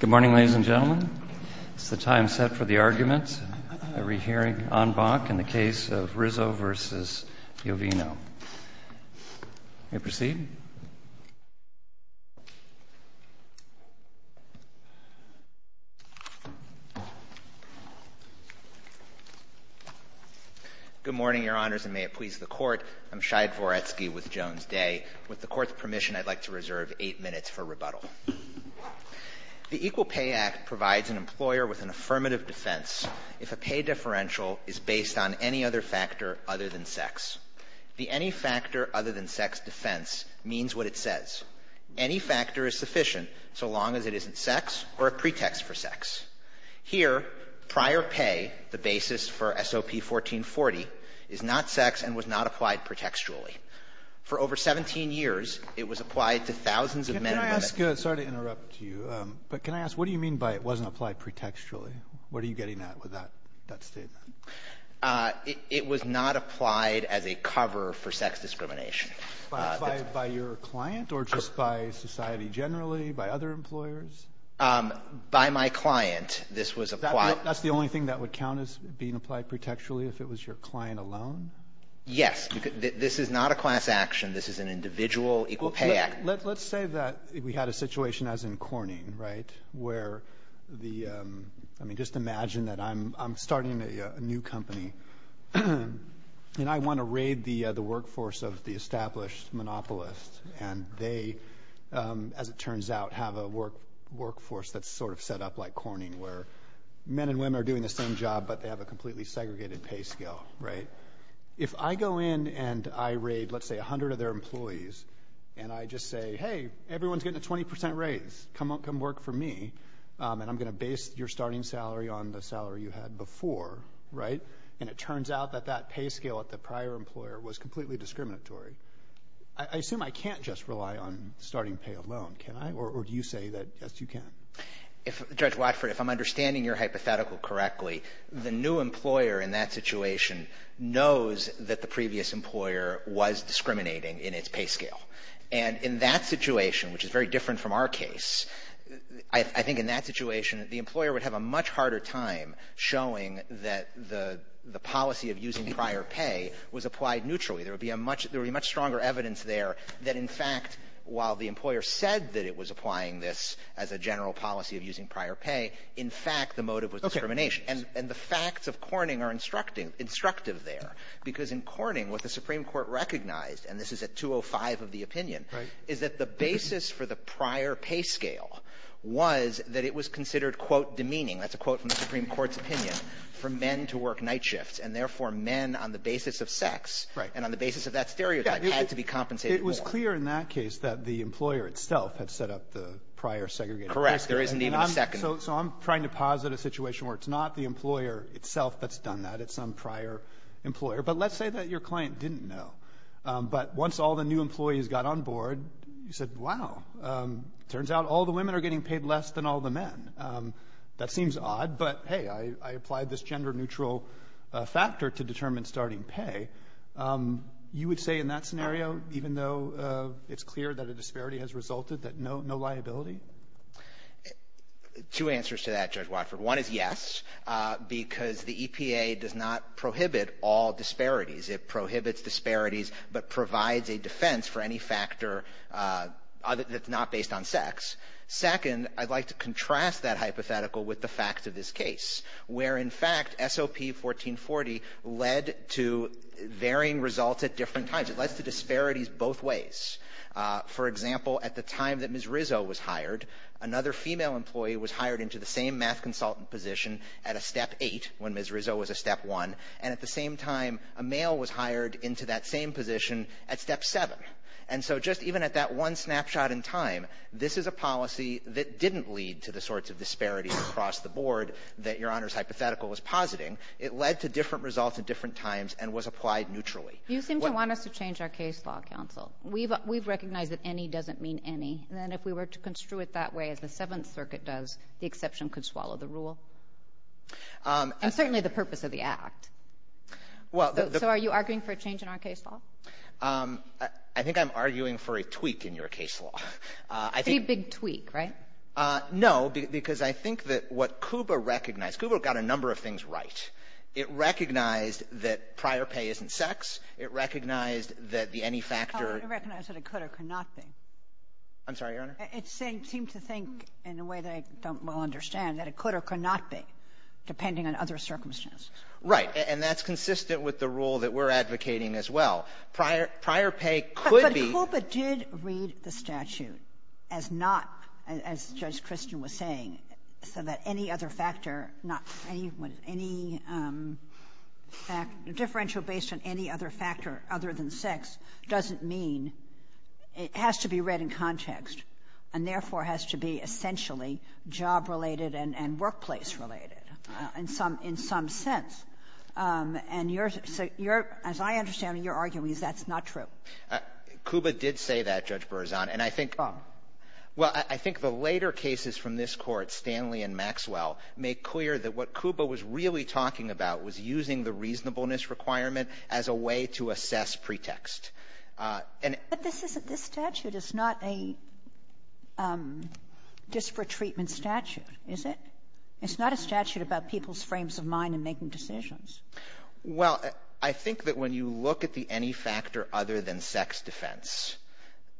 Good morning, ladies and gentlemen. It's the time set for the arguments. We'll be hearing on Bach in the case of Rizzo v. Yovino. You may proceed. Good morning, your honors, and may it please the court. I'm Shai Dvoretsky with Jones Day. With the court's permission, I'd like to reserve eight minutes for The Equal Pay Act provides an employer with an affirmative defense if a pay differential is based on any other factor other than sex. The any factor other than sex defense means what it says. Any factor is sufficient so long as it isn't sex or a pretext for sex. Here, prior pay, the basis for SOP 1440, is not sex and was not applied pretextually. For over 17 years, it was not applied as a cover for sex discrimination by my client. This was applied. That's the only thing that would count as being applied pretextually if it was your client alone. Yes, this is not a class action. This is an individual Equal Pay Act. Let's say that we had a situation, as in Corning, right, where the, I mean, just imagine that I'm starting a new company and I want to raid the workforce of the established monopolist. And they, as it turns out, have a work workforce that's sort of set up like Corning, where men and women are doing the same job, but they have a completely segregated pay scale, right? If I go in and I raid, let's say, 100 of their employees, and I just say, hey, everyone's getting a 20% raise. Come work for me. And I'm going to base your starting salary on the salary you had before, right? And it turns out that that pay scale at the prior employer was completely discriminatory. I assume I can't just rely on starting pay alone, can I? Or do you say that, yes, you can. If Judge Watford, if I'm understanding your hypothetical correctly, the new employer was discriminating in its pay scale. And in that situation, which is very different from our case, I think in that situation, the employer would have a much harder time showing that the policy of using prior pay was applied neutrally. There would be a much, there would be much stronger evidence there that, in fact, while the employer said that it was applying this as a general policy of using prior pay, in fact, the motive was discrimination. And the facts of Corning are instructive there, because in Corning, what the Supreme Court recognized, and this is a 205 of the opinion, is that the basis for the prior pay scale was that it was considered, quote, demeaning. That's a quote from the Supreme Court's opinion for men to work night shifts and therefore men on the basis of sex and on the basis of that stereotype had to be compensated. It was clear in that case that the employer itself had set up the prior segregation. Correct. There isn't even a second. So I'm trying to posit a situation where it's not the employer itself that's done that. It's some thing that your client didn't know. But once all the new employees got on board, you said, wow, turns out all the women are getting paid less than all the men. That seems odd. But, hey, I applied this gender neutral factor to determine starting pay. You would say in that scenario, even though it's clear that a disparity has resulted, that no liability? Two answers to that, Judge Watford. One is yes, because the EPA does not call disparities. It prohibits disparities, but provides a defense for any factor that's not based on sex. Second, I'd like to contrast that hypothetical with the fact of this case, where in fact SOP 1440 led to varying results at different times. It led to disparities both ways. For example, at the time that Ms. Rizzo was hired, another female employee was hired into the same mass consultant position at a step eight when Ms. Rizzo was a step one. And at the same time, a male was hired into that same position at step seven. And so just even at that one snapshot in time, this is a policy that didn't lead to the sorts of disparities across the board that your Honor's hypothetical is positing. It led to different results at different times and was applied neutrally. You think you want us to change our case law counsel? We've we've recognized that any doesn't mean any. And then if we were to construe it that way, as the Seventh Circuit does, the exception could follow the rule? And certainly the purpose of the act. So are you arguing for a change in our case law? I think I'm arguing for a tweak in your case law. A big tweak, right? No, because I think that what KUBA recognized, KUBA got a number of things right. It recognized that prior pay isn't sex. It recognized that the any factor... I don't recognize that it could or could not be. I'm sorry, Your Honor? It seemed to think, in a way that I don't well understand, that it could or could not be, depending on other circumstances. Right, and that's consistent with the rule that we're advocating as well. Prior pay could be... But KUBA did read the statute as not, as Judge Christian was saying, so that any other factor, not any, was any fact, differential based on any other factor other than sex, doesn't mean... It has to be read in context, and therefore has to be essentially job-related and workplace-related, in some sense. And as I understand it, you're arguing that's not true. KUBA did say that, Judge Berzon, and I think... Well, I think the later cases from this court, Stanley and Maxwell, make clear that what KUBA was really talking about was using the reasonableness requirement as a way to assess pretext. But this statute is not a disparate treatment statute, is it? It's not a statute about people's frames of mind and making decisions. Well, I think that when you look at the any factor other than sex defense,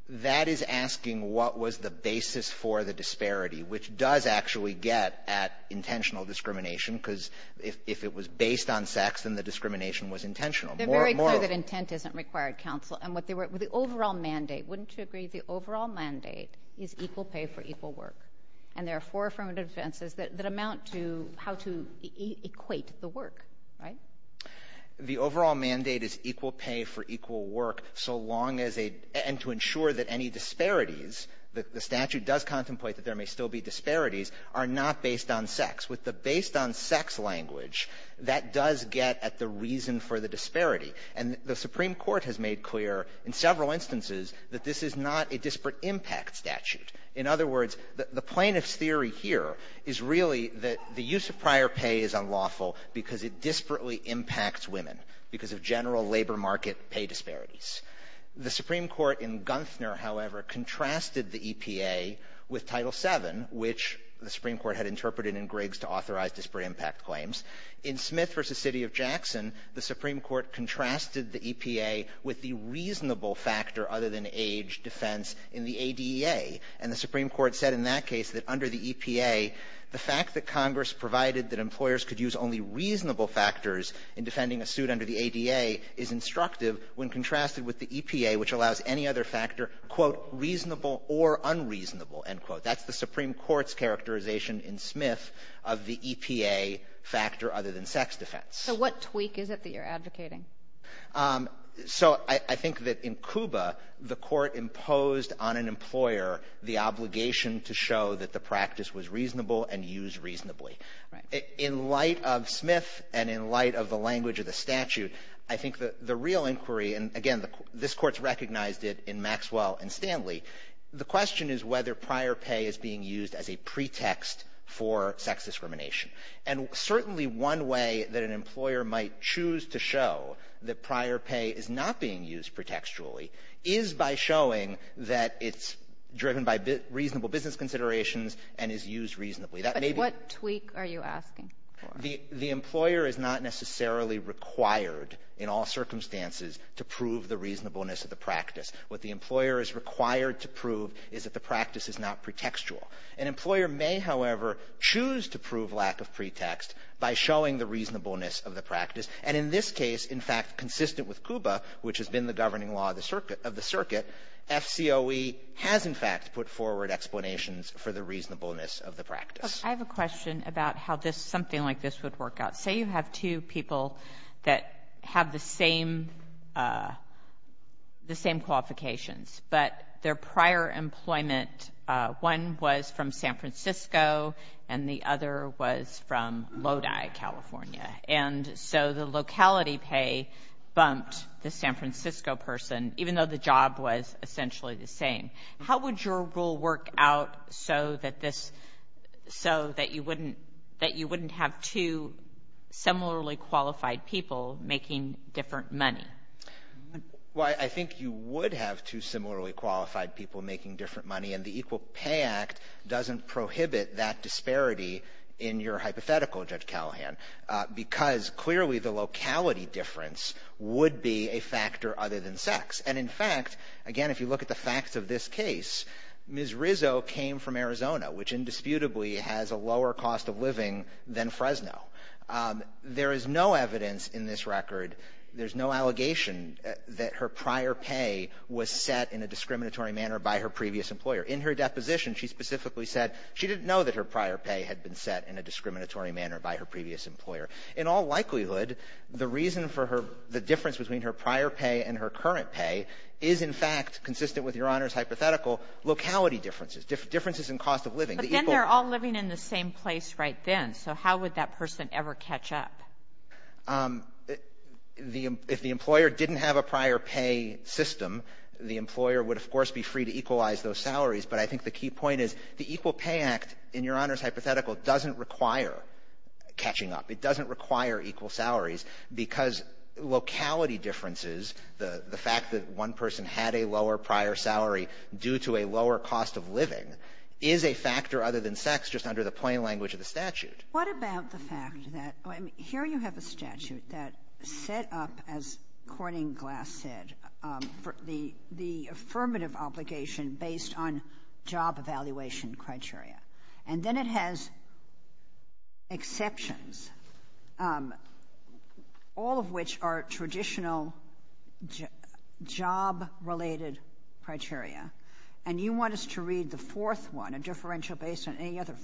that is asking what was the basis for the disparity, which does actually get at intentional discrimination, because if it was based on sex, then the discrimination was intentional. They're very clear that intent isn't required, counsel, and with the overall mandate, wouldn't you agree the overall mandate is equal pay for equal work? And there are four affirmative defenses that amount to how to equate the work, right? The overall mandate is equal pay for equal work, so long as a... and to ensure that any disparities, the statute does contemplate that there may still be disparities, are not based on sex. With the based on sex language, that does get at the reason for the disparity, and the Supreme Court has made clear in several instances that this is not a disparate impact statute. In other words, the plaintiff's theory here is really that the use of prior pay is unlawful because it disparately impacts women, because of general labor market pay disparities. The Supreme Court in Gunfner, however, contrasted the EPA with Title VII which the Supreme Court had interpreted in Griggs to authorize disparate impact claims. In Smith v. City of Jackson, the Supreme Court contrasted the EPA with the reasonable factor other than age defense in the ADA, and the Supreme Court said in that case that under the EPA, the fact that Congress provided that employers could use only reasonable factors in defending a suit under the ADA is instructive when contrasted with the EPA, which allows any other factor quote, reasonable or unreasonable, end quote. That's the Supreme Court's characterization in Smith of the EPA factor other than sex defense. So what tweak is it that you're advocating? So I think that in Cuba, the court imposed on an employer the obligation to show that the practice was reasonable and used reasonably. In light of Smith, and in light of the language of the statute, I and Stanley, the question is whether prior pay is being used as a pretext for sex discrimination. And certainly one way that an employer might choose to show that prior pay is not being used pretextually is by showing that it's driven by reasonable business considerations and is used reasonably. What tweak are you asking for? The employer is not necessarily required in all circumstances to prove the reasonableness of the practice. What the employer is required to prove is that the practice is not pretextual. An employer may, however, choose to prove lack of pretext by showing the reasonableness of the practice. And in this case, in fact, consistent with Cuba, which has been the governing law of the circuit, FCOE has, in fact, put forward explanations for the reasonableness of the practice. I have a question about how this, something like this, would work out. Say you have two people that have the same qualifications, but their prior employment, one was from San Francisco and the other was from Lodi, California. And so the locality pay bumped the San Francisco person, even though the job was essentially the same. How would your rule work out so that this, so that you wouldn't, that you wouldn't have two similarly qualified people making different money? Well, I think you would have two similarly qualified people making different money, and the Equal Pay Act doesn't prohibit that disparity in your hypothetical, Judge Callahan, because clearly the locality difference would be a factor other than sex. And in fact, again, if you look at the facts of this case, Ms. Rizzo came from Arizona, which indisputably has a lower cost of living than Fresno. There is no evidence in this record, there's no allegation, that her prior pay was set in a discriminatory manner by her previous employer. In her deposition, she specifically said she didn't know that her prior pay had been set in a discriminatory manner by her previous employer. In all likelihood, the reason for her, the difference between her prior pay and her current pay, is in fact consistent with Your Honor's hypothetical locality differences, differences in cost of living. But then they're all living in the same place right then, so how would that person ever catch up? If the employer didn't have a prior pay system, the employer would of course be free to equalize those salaries, but I think the key point is the Equal Pay Act, in Your Honor's hypothetical, doesn't require catching up. It doesn't require equal salaries, because locality differences, the fact that one person had a lower prior salary due to a lower cost of living, is a factor other than sex, just under the plain language of the Equal Pay Act. What about the fact that, here you have a statute that set up, as Courting Glass said, the affirmative obligation based on job evaluation criteria, and then it has exceptions, all of which are traditional job-related criteria, and you want us to read the fourth one, a differential based on any outside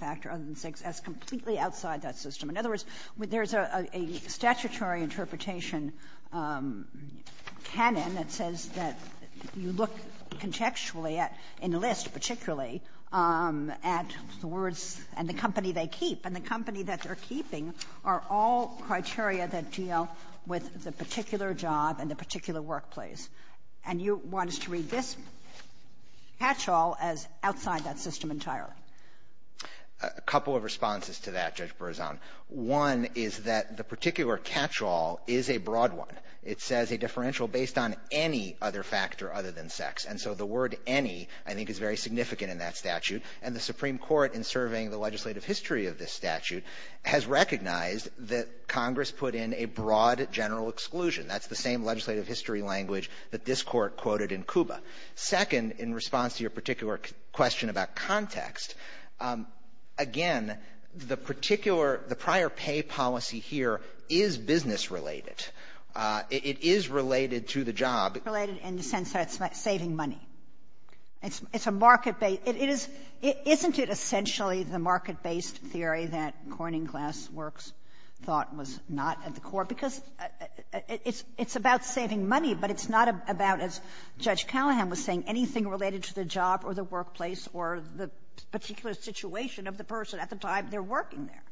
that system. In other words, there's a statutory interpretation canon that says that you look contextually at, in the list particularly, at the words and the company they keep, and the company that they're keeping are all criteria that deal with the particular job and the particular workplace, and you want us to read this catch-all as outside that system entirely. A couple of responses to that, Judge Berzon. One is that the particular catch-all is a broad one. It says a differential based on any other factor other than sex, and so the word any, I think, is very significant in that statute, and the Supreme Court, in surveying the legislative history of this statute, has recognized that Congress put in a broad general exclusion. That's the same legislative history language that this court quoted in KUBA. Second, in response to your particular question about context, again, the prior pay policy here is business-related. It is related to the job. Related in the sense that it's about saving money. It's a market-based, isn't it essentially the market-based theory that Corning Glassworks thought was not at the core, because it's about saving money, but it's not about, as Judge Callahan was saying, anything related to the job or the workplace or the particular situation of the person at the time they're working there.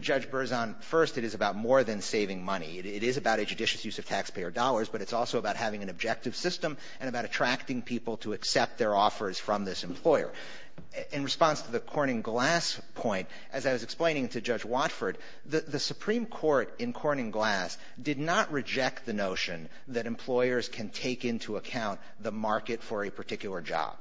Judge Berzon, first it is about more than saving money. It is about a judicious use of taxpayer dollars, but it's also about having an objective system and about attracting people to accept their offers from this employer. In response to the Corning Glass point, as I was explaining to Judge Watford, the take into account the market for a particular job.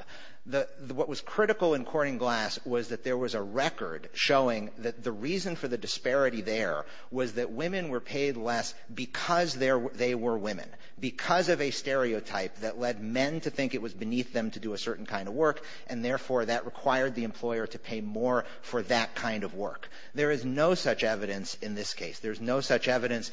What was critical in Corning Glass was that there was a record showing that the reason for the disparity there was that women were paid less because they were women. Because of a stereotype that led men to think it was beneath them to do a certain kind of work, and therefore that required the employer to pay more for that kind of work. There is no such evidence in this case. There's no such evidence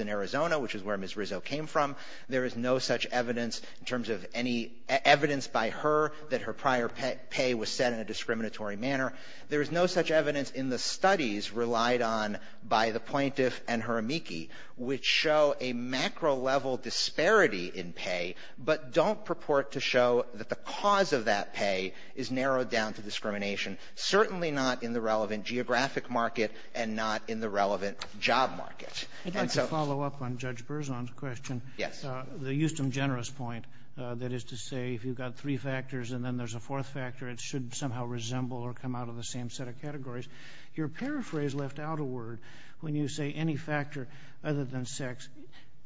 in Arizona, which is where Ms. Rizzo came from. There is no such evidence in terms of any evidence by her that her prior pay was set in a discriminatory manner. There's no such evidence in the studies relied on by the plaintiff and her amici, which show a macro level disparity in pay, but don't purport to show that the cause of that pay is narrowed down to discrimination. Certainly not in the relevant geographic market and not in the relevant job markets. I'd like to follow up on Judge Berzon's question. Yes. The Houston Generous point, that is to say if you've got three factors and then there's a fourth factor, it should somehow resemble or come out of the same set of categories. Your paraphrase left out a word. When you say any factor other than sex,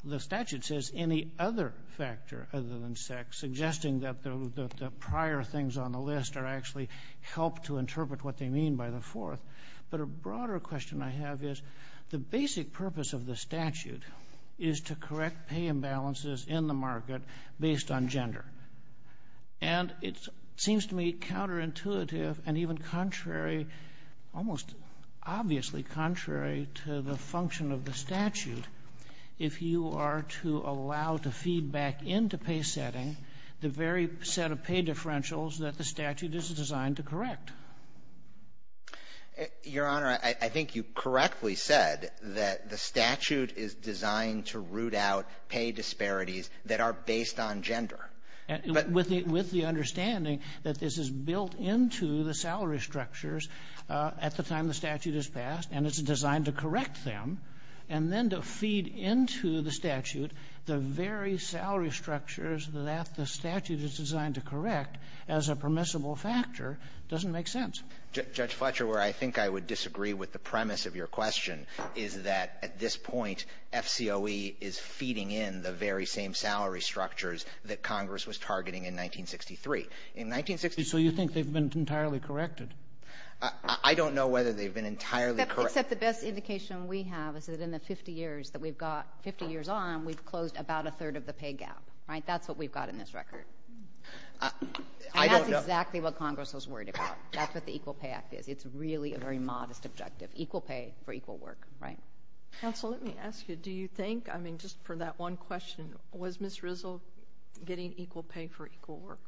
the statute says any other factor other than sex, suggesting that the prior things on the list are actually helped to interpret what they mean by the fourth. But a purpose of the statute is to correct pay imbalances in the market based on gender. And it seems to me counterintuitive and even contrary, almost obviously contrary, to the function of the statute if you are to allow the feedback into pay setting the very set of pay differentials that the statute is designed to correct. Your Honor, I think you correctly said that the statute is designed to root out pay disparities that are based on gender. With the understanding that this is built into the salary structures at the time the statute is passed and it's designed to correct them and then to feed into the statute the very salary structures that the statute is designed to correct as a permissible factor, it doesn't make sense. Judge Fletcher, where I think I would disagree with the premise of your question is that at this point, FCOE is feeding in the very same salary structures that Congress was targeting in 1963. In 1963, you think they've been entirely corrected? I don't know whether they've been entirely corrected. Except the best indication we have is that in the 50 years that we've got, 50 years on, we've closed about a third of the pay gap, right? That's what we've got in this record. That's exactly what Congress was worried about. That's what the Equal Pay Act is. It's really a very modest objective. Equal pay for equal work, right? Counsel, let me ask you, do you think, I mean just for that one question, was Ms. Rizl getting equal pay for equal work?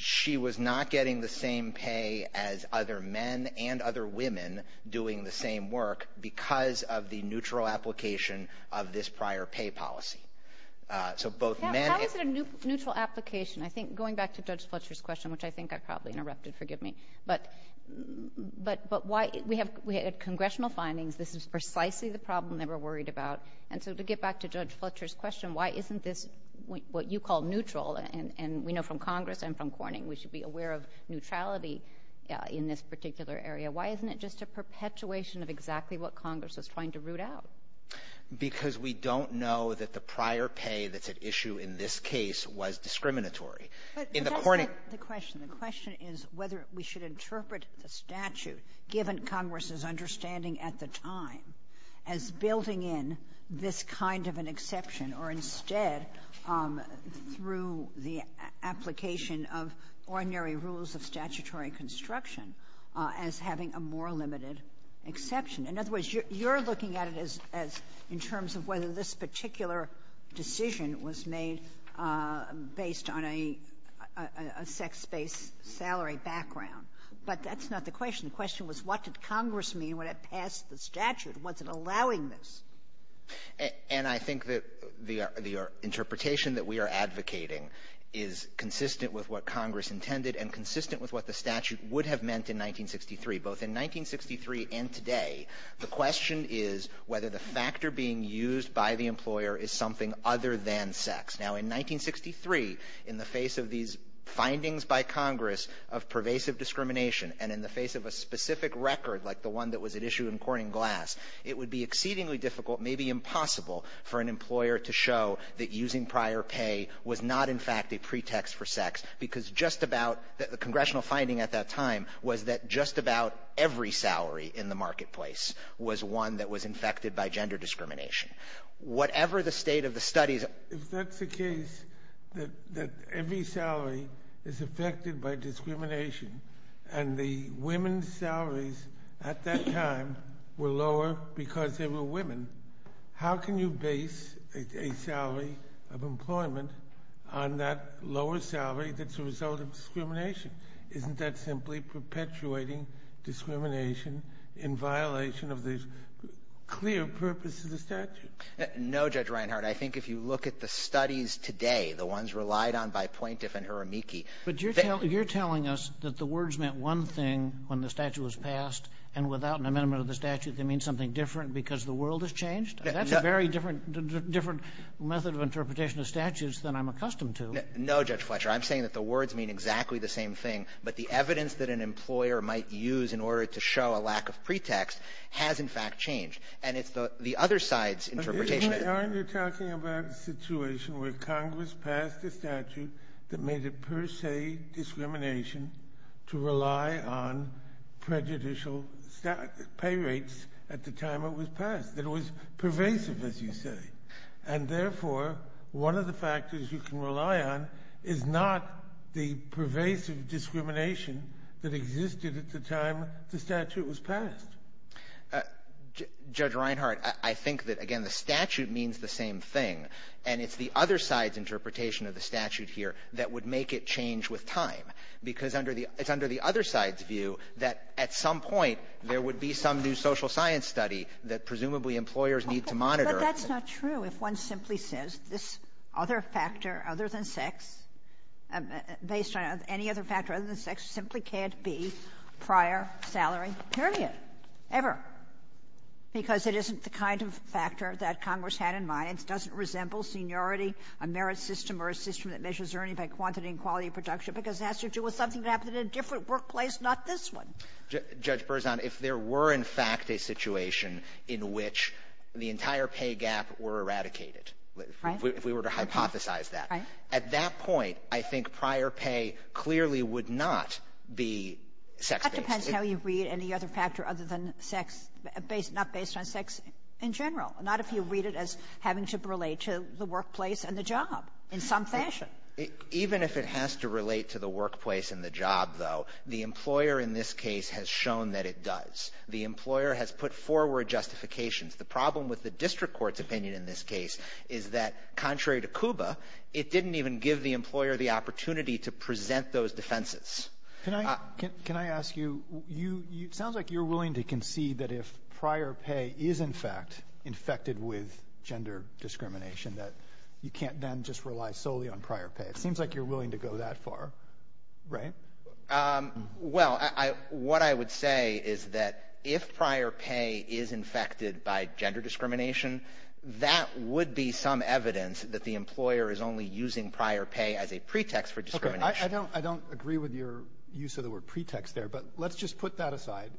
She was not getting the same pay as other men and other women doing the same work because of the neutral application of this prior pay policy. So both men... How is it a neutral application? I think going back to Judge Fletcher's question, which I think I probably interrupted, forgive me, but we had congressional findings. This is precisely the problem that we're worried about. And so to get back to Judge Fletcher's question, why isn't this what you call neutral, and we know from Congress and from Corning, we should be aware of neutrality in this case, and that's exactly what Congress is trying to root out. Because we don't know that the prior pay that's at issue in this case was discriminatory. But that's not the question. The question is whether we should interpret the statute, given Congress's understanding at the time, as building in this kind of an exception, or instead, through the application of ordinary rules of And I think that the interpretation that we are advocating is consistent with what Congress intended and consistent with what the statute would have meant in 1963. Both in 1963 and today, the question is whether the factor being used by the employer is something other than sex. Now in 1963, in the face of these findings by Congress of pervasive discrimination, and in the face of a specific record like the one that was at issue in Corning Glass, it would be exceedingly difficult, maybe impossible, for an employer to show that using prior pay was not, in fact, a pretext for sex. Because just about the congressional finding at that time was that just about every salary in the marketplace was one that was infected by gender discrimination. Whatever the state of the study that... If that's the case, that every salary is affected by discrimination, and the women's salaries at that time were lower because they were women, how can you base a salary of employment on that lower salary that's a result of gender discrimination? Isn't that simply perpetuating discrimination in violation of the clear purpose of the statute? No, Judge Reinhart. I think if you look at the studies today, the ones relied on by Plaintiff and Hiramiki... But you're telling us that the words meant one thing when the statute was passed, and without an amendment of the statute they mean something different because the world has changed? That's a very different method of interpretation of statutes than I'm accustomed to. No, Judge Fletcher. I'm saying that the words mean exactly the same thing, but the evidence that an employer might use in order to show a lack of pretext has in fact changed. And it's the other side's interpretation... But, Judge Reinhart, you're talking about a situation where Congress passed a statute that made it per se discrimination to rely on prejudicial pay rates at the time it was passed. It was pervasive, as you say. And therefore, one of the factors you can rely on is not the pervasive discrimination that existed at the time the statute was passed. Judge Reinhart, I think that, again, the statute means the same thing, and it's the other side's interpretation of the statute here that would make it change with time. Because it's under the other side's view that at some point there would be some new social science study that presumably employers need to monitor. But that's not true if one simply says this other factor other than sex, based on any other factor other than sex, simply can't be prior salary period, ever. Because it isn't the kind of factor that Congress had in mind. It doesn't resemble seniority, a merit system, or a system that measures earnings by quantity and quality of production, because that's to do with something that happened in a different workplace, not this one. Judge Berzon, if there were, in fact, a situation in which the entire pay gap were eradicated, if we were to hypothesize that, at that point, I think prior pay clearly would not be sex pay. That depends how you read any other factor other than sex, not based on sex in general, not if you read it as having to relate to the workplace and the job in some fashion. Even if it has to relate to the workplace and the job, though, the employer in this case has shown that it does. The employer has put forward justifications. The problem with the district court's opinion in this case is that, contrary to CUBA, it didn't even give the employer the opportunity to present those defenses. Can I ask you, it sounds like you're willing to concede that if prior pay is, in fact, infected with gender discrimination, that you can't then just rely solely on prior pay. It seems like you're willing to go that far, right? Well, what I would say is that if prior pay is infected by gender discrimination, that would be some evidence that the employer is only using prior pay as a pretext for discrimination. I don't agree with your use of the word pretext there, but let's just put that aside.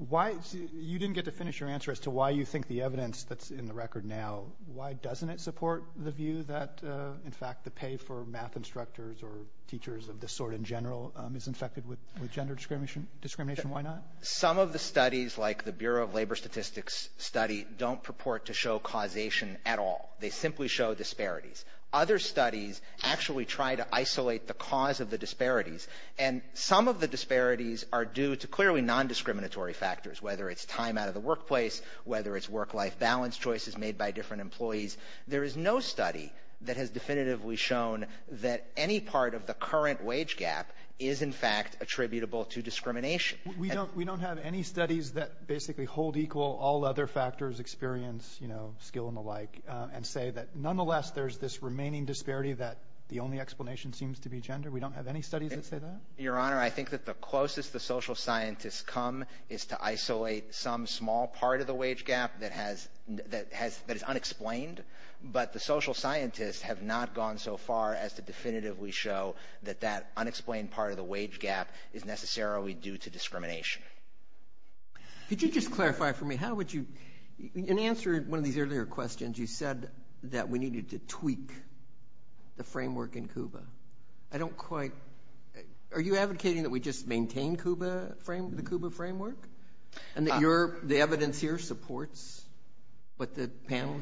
You didn't get to finish your answer as to why you think the evidence that's in the record now, why doesn't it support the view that, in fact, the pay for math instructors or teachers of this sort in general is infected with gender discrimination? Why not? Some of the studies, like the Bureau of Labor Statistics study, don't purport to show causation at all. They simply show disparities. Other studies actually try to isolate the cause of the disparities, and some of the disparities are due to clearly nondiscriminatory factors, whether it's time out of the workplace, whether it's work-life balance choices made by different employees. There is no study that has definitively shown that any part of the current wage gap is, in fact, attributable to discrimination. We don't have any studies that basically hold equal all other factors, experience, skill, and the like, and say that, nonetheless, there's this remaining disparity that the only explanation seems to be gender? We don't have any studies that say that? Your Honor, I think that the closest the social scientists come is to isolate some small part of the wage gap that is unexplained, but the social scientists have not gone so far as to definitively show that that unexplained part of the wage gap is necessarily due to discrimination. Could you just clarify for me, how would you – in answer to one of these earlier questions, you said that we needed to tweak the framework in CUBA. I don't quite – are you advocating that we just maintain the CUBA framework? And that the evidence here supports what the panel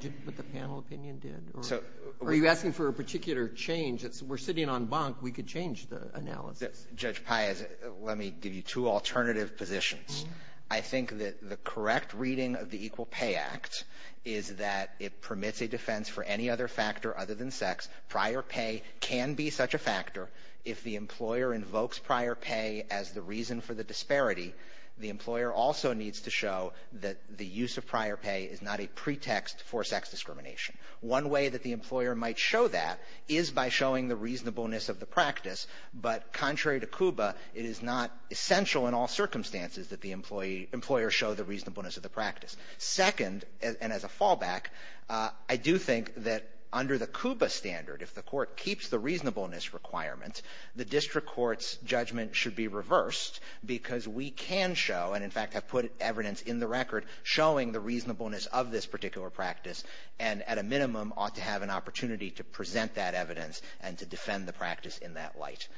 opinion did? Are you asking for a particular change? If we're sitting on bunk, we could change the analysis. Judge Paez, let me give you two alternative positions. I think that the correct reading of the Equal Pay Act is that it permits a defense for any other factor other than sex. Prior pay can be such a factor. If the employer invokes prior pay as the reason for the disparity, the employer also needs to show that the use of prior pay is not a pretext for sex discrimination. One way that the employer might show that is by showing the reasonableness of the practice. But contrary to CUBA, it is not essential in all circumstances that the employer show the reasonableness of the practice. Second, and as a fallback, I do think that under the CUBA standard, if the court keeps the reasonableness requirement, the district court's judgment should be reversed because we can show, and in fact have put evidence in the record showing the reasonableness of this particular practice, and at a minimum ought to have an opportunity to present that evidence and to defend the practice in that light.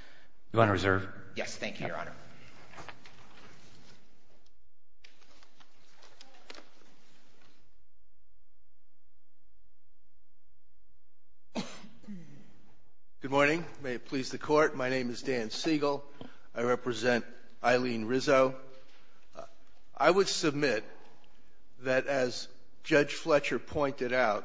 Your Honor, is there – Yes, thank you, Your Honor. Thank you. Good morning. May it please the Court, my name is Dan Siegel. I represent Eileen Rizzo. I would submit that as Judge Fletcher pointed out,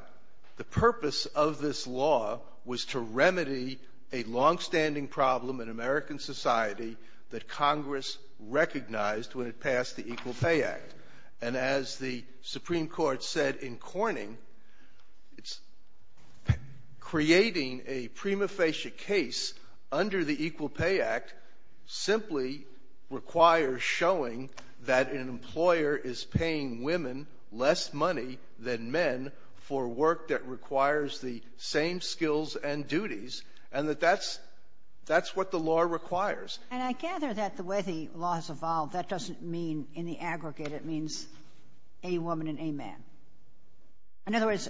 the purpose of this law was to remedy a longstanding problem in American society that Congress recognized when it passed the Equal Pay Act. And as the Supreme Court said in Corning, creating a prima facie case under the Equal Pay Act simply requires showing that an employer is paying women less money than men for work that requires the same skills and duties, and that that's what the law requires. And I gather that the way the law has evolved, that doesn't mean in the aggregate it means a woman and a man. In other words,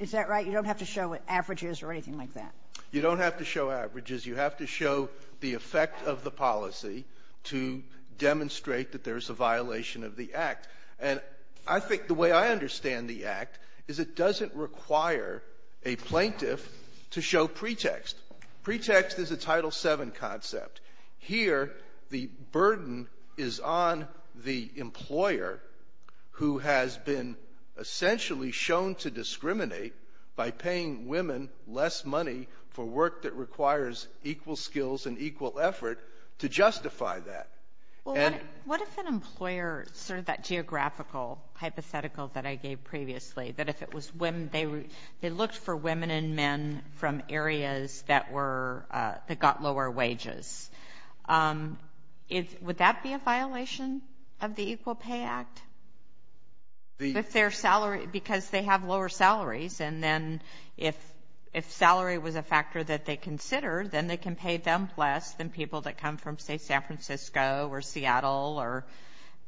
is that right? You don't have to show averages or anything like that? You don't have to show averages. You have to show the effect of the policy to demonstrate that there's a violation of the Act. And I think the way I understand the Act is it doesn't require a plaintiff to show pretext. Pretext is a Title VII concept. Here the burden is on the employer who has been essentially shown to discriminate by paying women less money for work that requires equal skills and equal effort to justify that. What if an employer, sort of that geographical hypothetical that I gave previously, that if it was women, they looked for women and men from areas that got lower wages? Would that be a violation of the Equal Pay Act? Because they have lower salaries, and then if salary was a factor that they considered, then they can pay them less than people that come from, say, San Francisco or Seattle.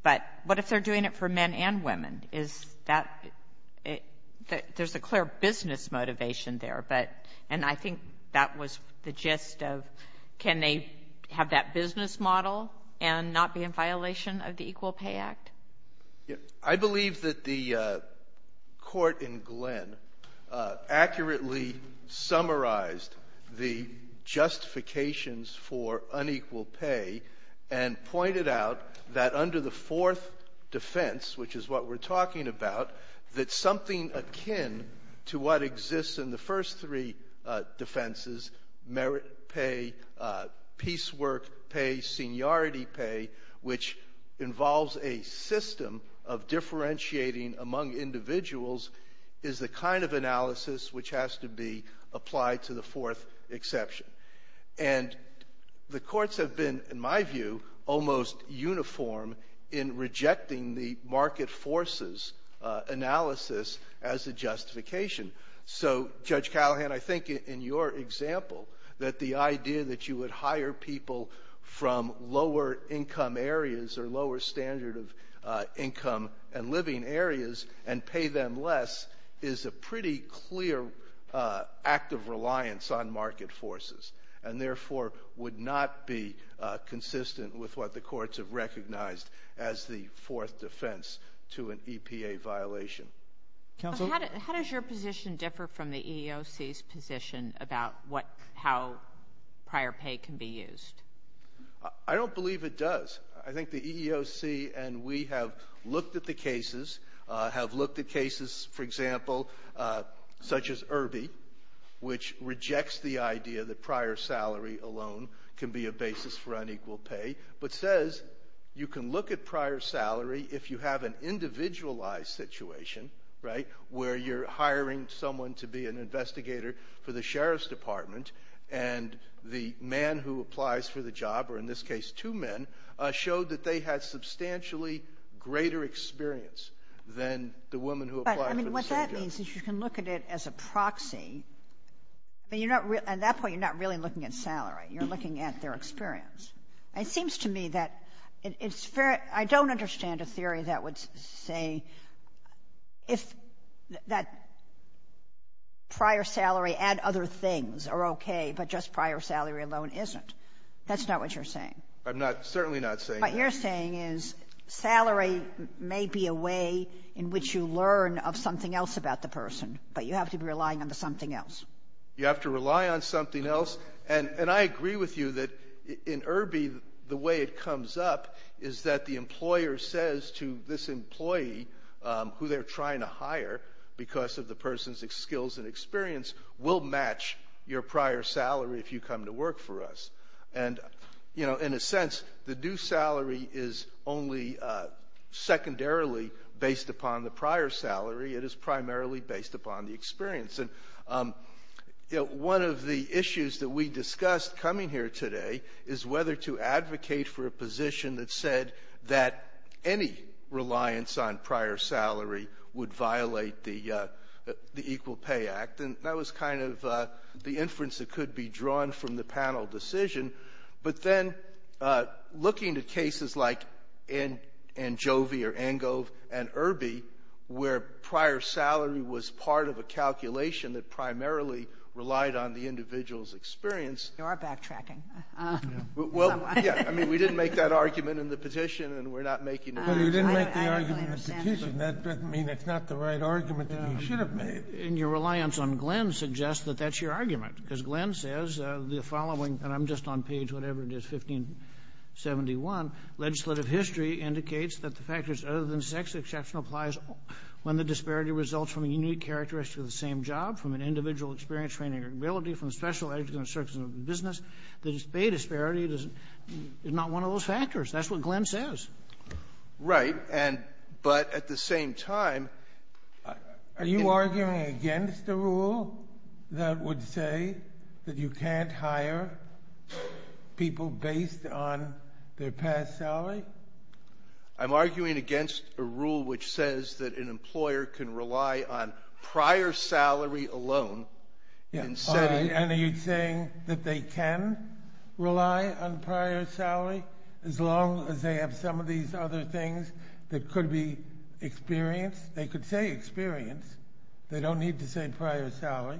But what if they're doing it for men and women? There's a clear business motivation there, and I think that was the gist of can they have that business model and not be in violation of the Equal Pay Act? I believe that the court in Glenn accurately summarized the justifications for unequal pay and pointed out that under the fourth defense, which is what we're talking about, that something akin to what exists in the first three defenses, merit pay, piecework pay, seniority pay, which involves a system of differentiating among individuals, is the kind of analysis which has to be applied to the fourth exception. And the courts have been, in my view, almost uniform in rejecting the market forces analysis as a justification. So, Judge Callahan, I think in your example that the idea that you would hire people from lower income areas or lower standard of income and living areas and pay them less is a pretty clear act of reliance on market forces, and therefore would not be consistent with what the courts have recognized as the fourth defense to an EPA violation. How does your position differ from the EEOC's position about how prior pay can be used? I don't believe it does. I think the EEOC and we have looked at the cases, have looked at cases, for example, such as Irby, which rejects the idea that prior salary alone can be a basis for unequal pay, but says you can look at prior salary if you have an individualized situation, right, where you're hiring someone to be an investigator for the sheriff's department, and the man who applies for the job, or in this case two men, showed that they had substantially greater experience than the woman who applied for the sheriff's department. I mean, what that means is you can look at it as a proxy, and at that point you're not really looking at salary, you're looking at their experience. It seems to me that it's very – I don't understand a theory that would say that prior salary and other things are okay, but just prior salary alone isn't. That's not what you're saying. I'm certainly not saying that. What you're saying is salary may be a way in which you learn of something else about the person, but you have to be relying on something else. You have to rely on something else. And I agree with you that in Irby the way it comes up is that the employer says to this employee who they're trying to hire because of the person's skills and experience, we'll match your prior salary if you come to work for us. And, you know, in a sense the due salary is only secondarily based upon the prior salary. It is primarily based upon the experience. One of the issues that we discussed coming here today is whether to advocate for a position that said that any reliance on prior salary would violate the Equal Pay Act, and that was kind of the inference that could be drawn from the panel decision. But then looking to cases like Anjovi or Angov and Irby where prior salary was part of a calculation that primarily relied on the individual's experience. You are backtracking. Well, yeah, I mean, we didn't make that argument in the petition, and we're not making it. Well, you didn't make the argument in the petition. That doesn't mean it's not the right argument that you should have made. And your reliance on Glenn suggests that that's your argument, because Glenn says the following, and I'm just on page whatever it is, 1571. Legislative history indicates that the factors other than sex exception applies when the disparity results from a unique characteristic of the same job, from an individual experience, training, or ability, from special education, service, or business. The pay disparity is not one of those factors. That's what Glenn says. Right, but at the same time. Are you arguing against the rule that would say that you can't hire people based on their past salary? I'm arguing against a rule which says that an employer can rely on prior salary alone. And are you saying that they can rely on prior salary as long as they have some of these other things that could be experience? They could say experience. They don't need to say prior salary.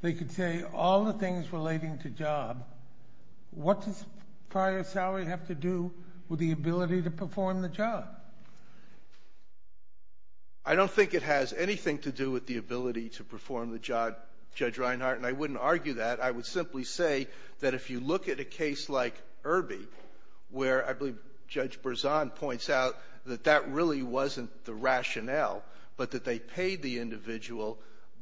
They could say all the things relating to job. What does prior salary have to do with the ability to perform the job? I don't think it has anything to do with the ability to perform the job, Judge Reinhart, and I wouldn't argue that. I would simply say that if you look at a case like Irby, where I believe Judge Berzon points out that that really wasn't the rationale, but that they paid the individual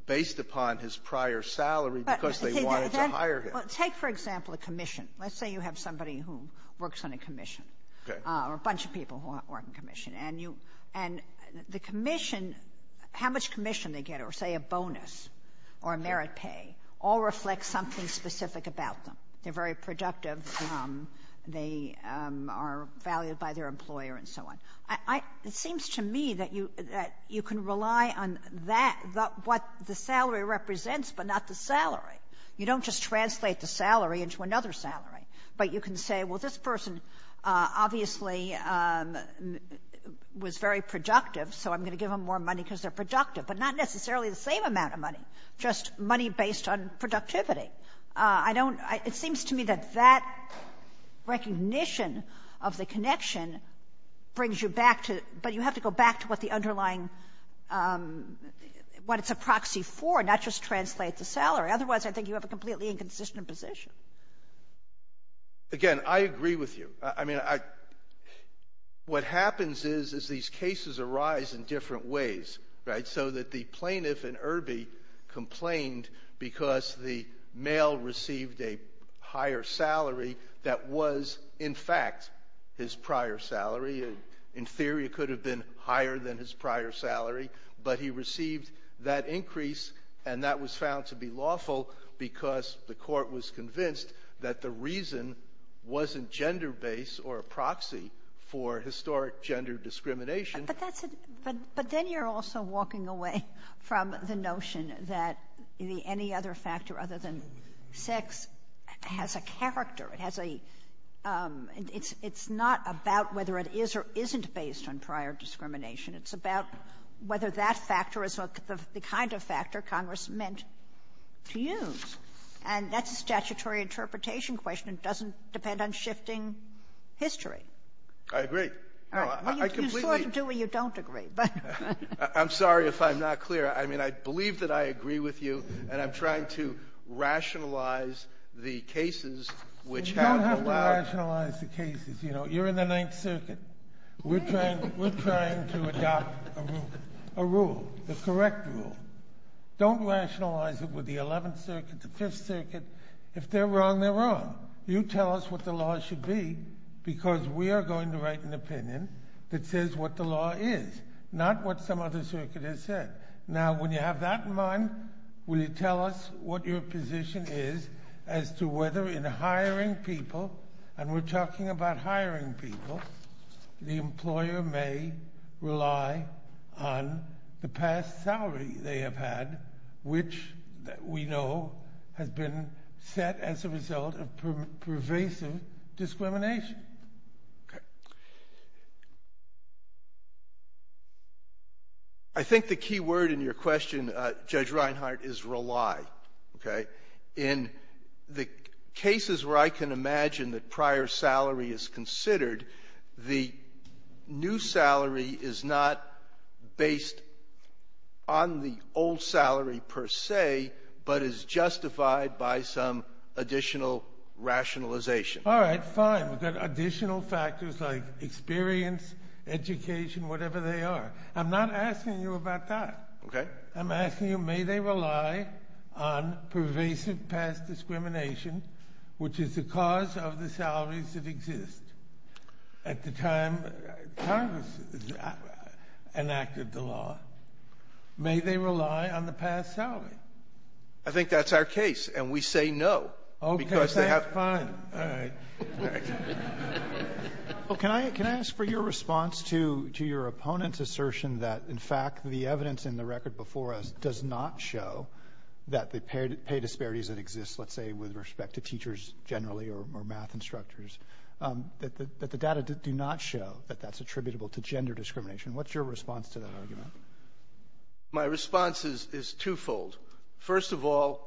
based upon his prior salary because they wanted to hire him. Let's say you have somebody who works on a commission or a bunch of people who work on a commission. And the commission, how much commission they get, or say a bonus or a merit pay, all reflect something specific about them. They're very productive. They are valued by their employer and so on. It seems to me that you can rely on that, what the salary represents, but not the salary. You don't just translate the salary into another salary. But you can say, well, this person obviously was very productive, so I'm going to give them more money because they're productive, but not necessarily the same amount of money, just money based on productivity. It seems to me that that recognition of the connection brings you back to, but you have to go back to what the underlying, what it's a proxy for, not just translate the salary. Otherwise, I think you have a completely inconsistent position. Again, I agree with you. I mean, what happens is these cases arise in different ways, right, so that the plaintiff in Irby complained because the male received a higher salary that was, in fact, his prior salary. In theory, it could have been higher than his prior salary, but he received that increase, and that was found to be lawful because the court was convinced that the reason wasn't gender-based or a proxy for historic gender discrimination. But then you're also walking away from the notion that any other factor other than sex has a character. It's not about whether it is or isn't based on prior discrimination. It's about whether that factor is the kind of factor Congress meant to use, and that's a statutory interpretation question. It doesn't depend on shifting history. I agree. Well, you sort of do or you don't agree. I'm sorry if I'm not clear. I mean, I believe that I agree with you, and I'm trying to rationalize the cases which have a lot of- You don't have to rationalize the cases. You know, you're in the Ninth Circuit. We're trying to adopt a rule, the correct rule. Don't rationalize it with the Eleventh Circuit, the Fifth Circuit. If they're wrong, they're wrong. You tell us what the law should be because we are going to write an opinion that says what the law is, not what some other circuit has said. Now, when you have that in mind, will you tell us what your position is as to whether in hiring people, and we're talking about hiring people, the employer may rely on the past salary they have had, which we know has been set as a result of pervasive discrimination? I think the key word in your question, Judge Reinhart, is relied. In the cases where I can imagine that prior salary is considered, the new salary is not based on the old salary per se, but is justified by some additional rationalization. All right, fine. Is that additional factors like experience, education, whatever they are? I'm not asking you about that. Okay. I'm asking you, may they rely on pervasive past discrimination, which is the cause of the salaries that exist at the time Congress enacted the law? May they rely on the past salary? I think that's our case, and we say no because they have time. All right. Well, can I ask for your response to your opponent's assertion that, in fact, the evidence in the record before us does not show that the pay disparities that exist, let's say with respect to teachers generally or math instructors, that the data do not show that that's attributable to gender discrimination. What's your response to that argument? My response is twofold. First of all,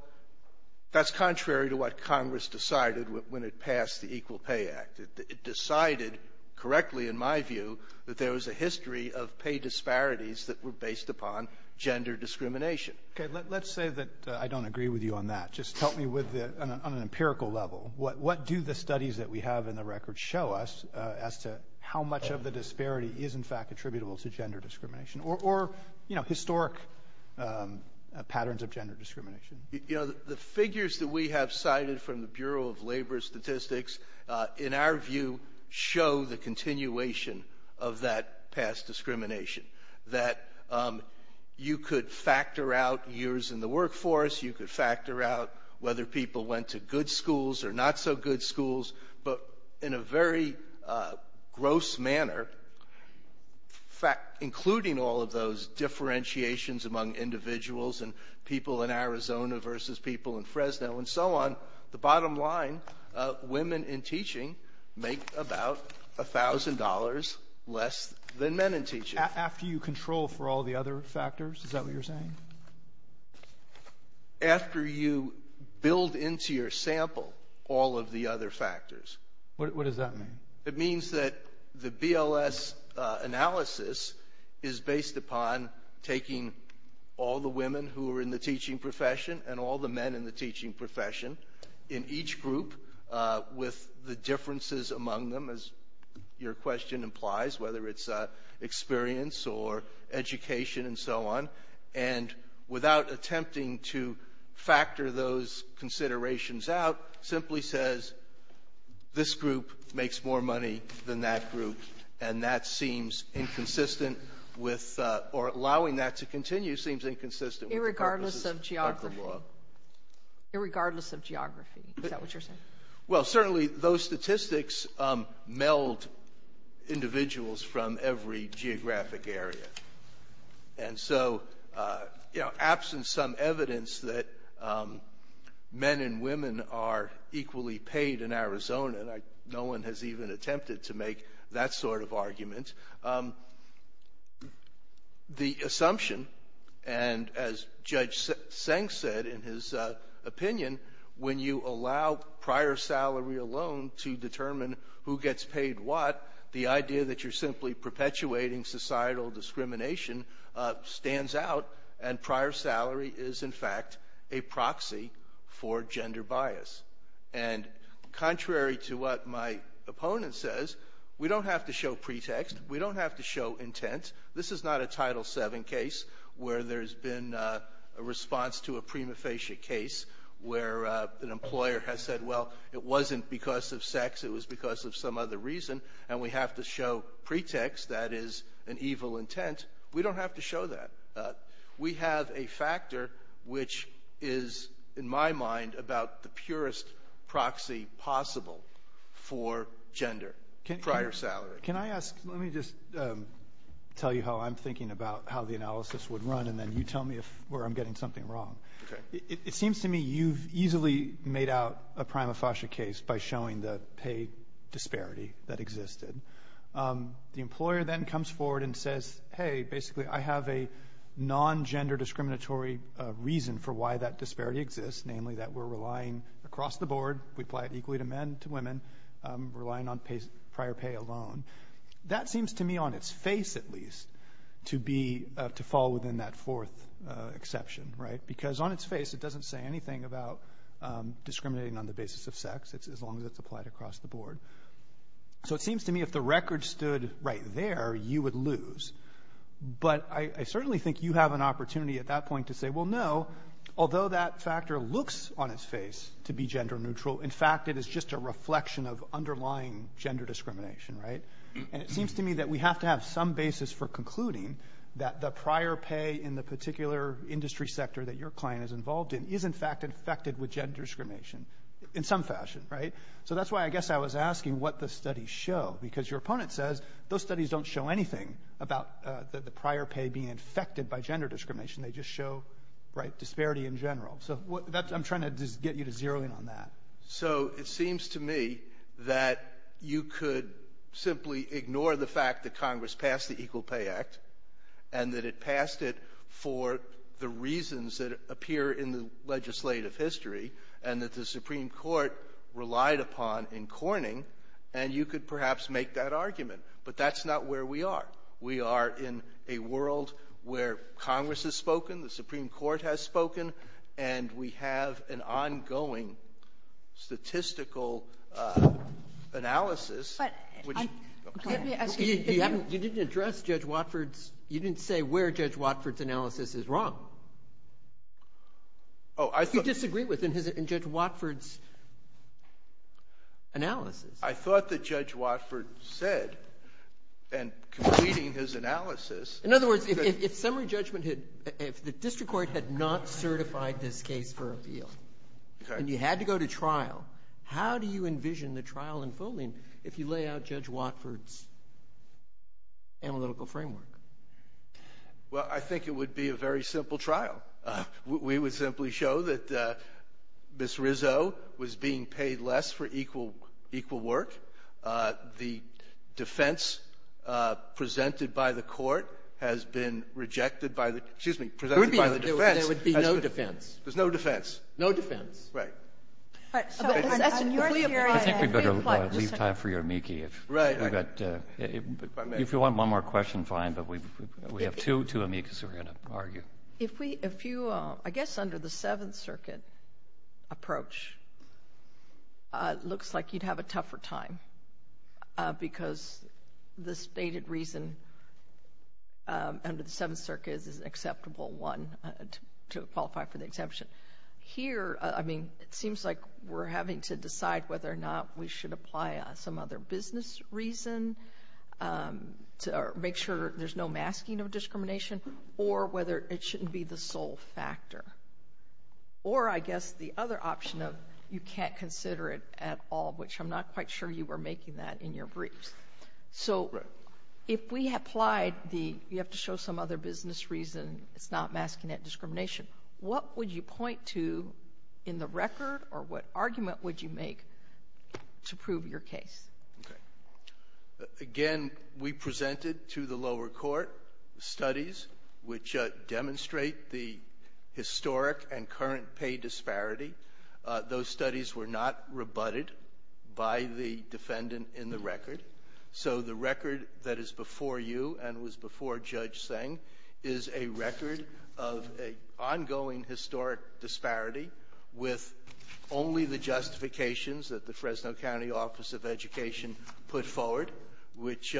that's contrary to what Congress decided when it passed the Equal Pay Act. It decided correctly, in my view, that there was a history of pay disparities that were based upon gender discrimination. Okay. Let's say that I don't agree with you on that. Just help me on an empirical level. What do the studies that we have in the record show us as to how much of the disparity is, in fact, attributable to gender discrimination or historic patterns of gender discrimination? The figures that we have cited from the Bureau of Labor Statistics, in our view, show the continuation of that past discrimination, that you could factor out years in the workforce. You could factor out whether people went to good schools or not so good schools. But in a very gross manner, in fact, including all of those differentiations among individuals and people in Arizona versus people in Fresno and so on, the bottom line, women in teaching make about $1,000 less than men in teaching. After you control for all the other factors? Is that what you're saying? After you build into your sample all of the other factors. What does that mean? It means that the BLS analysis is based upon taking all the women who are in the teaching profession and all the men in the teaching profession in each group with the differences among them, as your question implies, whether it's experience or education and so on, and without attempting to factor those considerations out, simply says, this group makes more money than that group, and that seems inconsistent with or allowing that to continue seems inconsistent with the purpose of the sample law. Irregardless of geography. Irregardless of geography. Is that what you're saying? Well, certainly those statistics meld individuals from every geographic area. And so, you know, absent some evidence that men and women are equally paid in Arizona, no one has even attempted to make that sort of argument. The assumption, and as Judge Seng said in his opinion, when you allow prior salary alone to determine who gets paid what, the idea that you're simply perpetuating societal discrimination stands out, and prior salary is, in fact, a proxy for gender bias. And contrary to what my opponent says, we don't have to show pretext. We don't have to show intent. This is not a Title VII case where there's been a response to a prima facie case where an employer has said, well, it wasn't because of sex. It was because of some other reason, and we have to show pretext, that is, an evil intent. We don't have to show that. We have a factor which is, in my mind, about the purest proxy possible for gender, prior salary. Can I ask, let me just tell you how I'm thinking about how the analysis would run, and then you tell me where I'm getting something wrong. Okay. It seems to me you've easily made out a prima facie case by showing the pay disparity that existed. The employer then comes forward and says, hey, basically, I have a non-gender discriminatory reason for why that disparity exists, namely that we're relying across the board. We apply it equally to men, to women. We're relying on prior pay alone. That seems to me, on its face at least, to fall within that fourth exception, right? It doesn't say anything about discriminating on the basis of sex, as long as it's applied across the board. So it seems to me if the record stood right there, you would lose. But I certainly think you have an opportunity at that point to say, well, no, although that factor looks on its face to be gender neutral, in fact it is just a reflection of underlying gender discrimination, right? And it seems to me that we have to have some basis for concluding that the prior pay in the particular industry sector that your client is involved in is, in fact, infected with gender discrimination in some fashion, right? So that's why I guess I was asking what the studies show, because your opponent says those studies don't show anything about the prior pay being infected by gender discrimination. They just show disparity in general. So I'm trying to get you to zero in on that. So it seems to me that you could simply ignore the fact that Congress passed the Equal Pay Act and that it passed it for the reasons that appear in the legislative history and that the Supreme Court relied upon in corning, and you could perhaps make that argument. But that's not where we are. We are in a world where Congress has spoken, the Supreme Court has spoken, and we have an ongoing statistical analysis. You didn't address Judge Watford's – you didn't say where Judge Watford's analysis is wrong. You disagreed with Judge Watford's analysis. I thought that Judge Watford said, in completing his analysis – In other words, if summary judgment – if the district court had not certified this case for appeal and you had to go to trial, how do you envision the trial and full name if you lay out Judge Watford's analytical framework? Well, I think it would be a very simple trial. We would simply show that Ms. Rizzo was being paid less for equal work. The defense presented by the court has been rejected by the – There would be no defense. There's no defense. No defense. Right. I'm sorry. We have time for your amici. Right. If you want one more question, fine, but we have two amicis who are going to argue. If you – I guess under the Seventh Circuit approach, it looks like you'd have a tougher time because the stated reason under the Seventh Circuit is an acceptable one to qualify for the exemption. Here, I mean, it seems like we're having to decide whether or not we should apply some other business reason to make sure there's no masking of discrimination or whether it shouldn't be the sole factor. Or I guess the other option of you can't consider it at all, which I'm not quite sure you were making that in your briefs. So if we applied the – you have to show some other business reason. It's not masking that discrimination. What would you point to in the record, or what argument would you make to prove your case? Okay. Again, we presented to the lower court studies which demonstrate the historic and current pay disparity. Those studies were not rebutted by the defendant in the record. So the record that is before you and was before Judge Singh is a record of an ongoing historic disparity with only the justifications that the Fresno County Office of Education put forward, which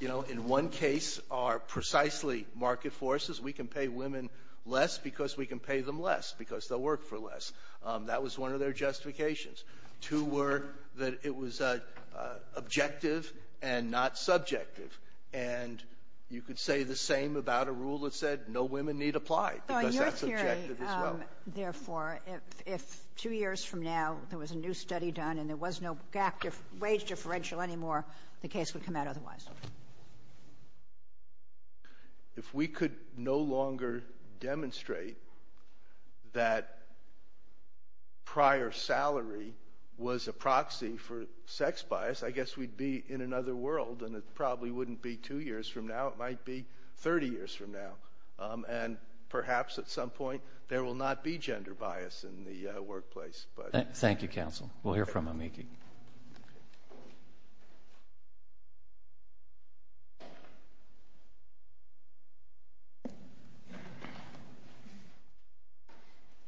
in one case are precisely market forces. We can pay women less because we can pay them less because they'll work for less. That was one of their justifications. Two were that it was objective and not subjective. And you could say the same about a rule that said no women need to apply because that's objective as well. So in your theory, therefore, if two years from now there was a new study done and there was no wage differential anymore, the case would come out otherwise? If we could no longer demonstrate that prior salary was a proxy for sex bias, I guess we'd be in another world and it probably wouldn't be two years from now. It might be 30 years from now. And perhaps at some point there will not be gender bias in the workplace. Thank you, counsel. We'll hear from him. Thank you.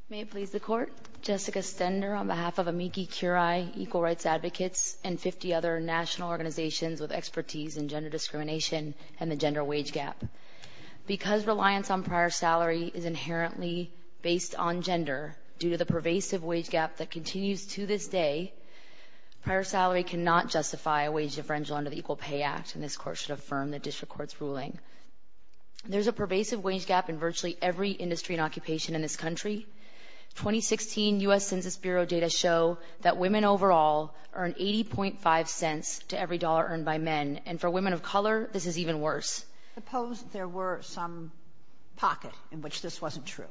May it please the Court. Jessica Stender on behalf of Amici Curie, Equal Rights Advocates, and 50 other national organizations with expertise in gender discrimination and the gender wage gap. Because the reliance on prior salary is inherently based on gender, due to the pervasive wage gap that continues to this day, prior salary cannot justify a wage differential under the Equal Pay Act, and this Court should affirm the District Court's ruling. There's a pervasive wage gap in virtually every industry and occupation in this country. 2016 U.S. Census Bureau data show that women overall earn 80.5 cents to every dollar earned by men. And for women of color, this is even worse. Suppose there were some pockets in which this wasn't true.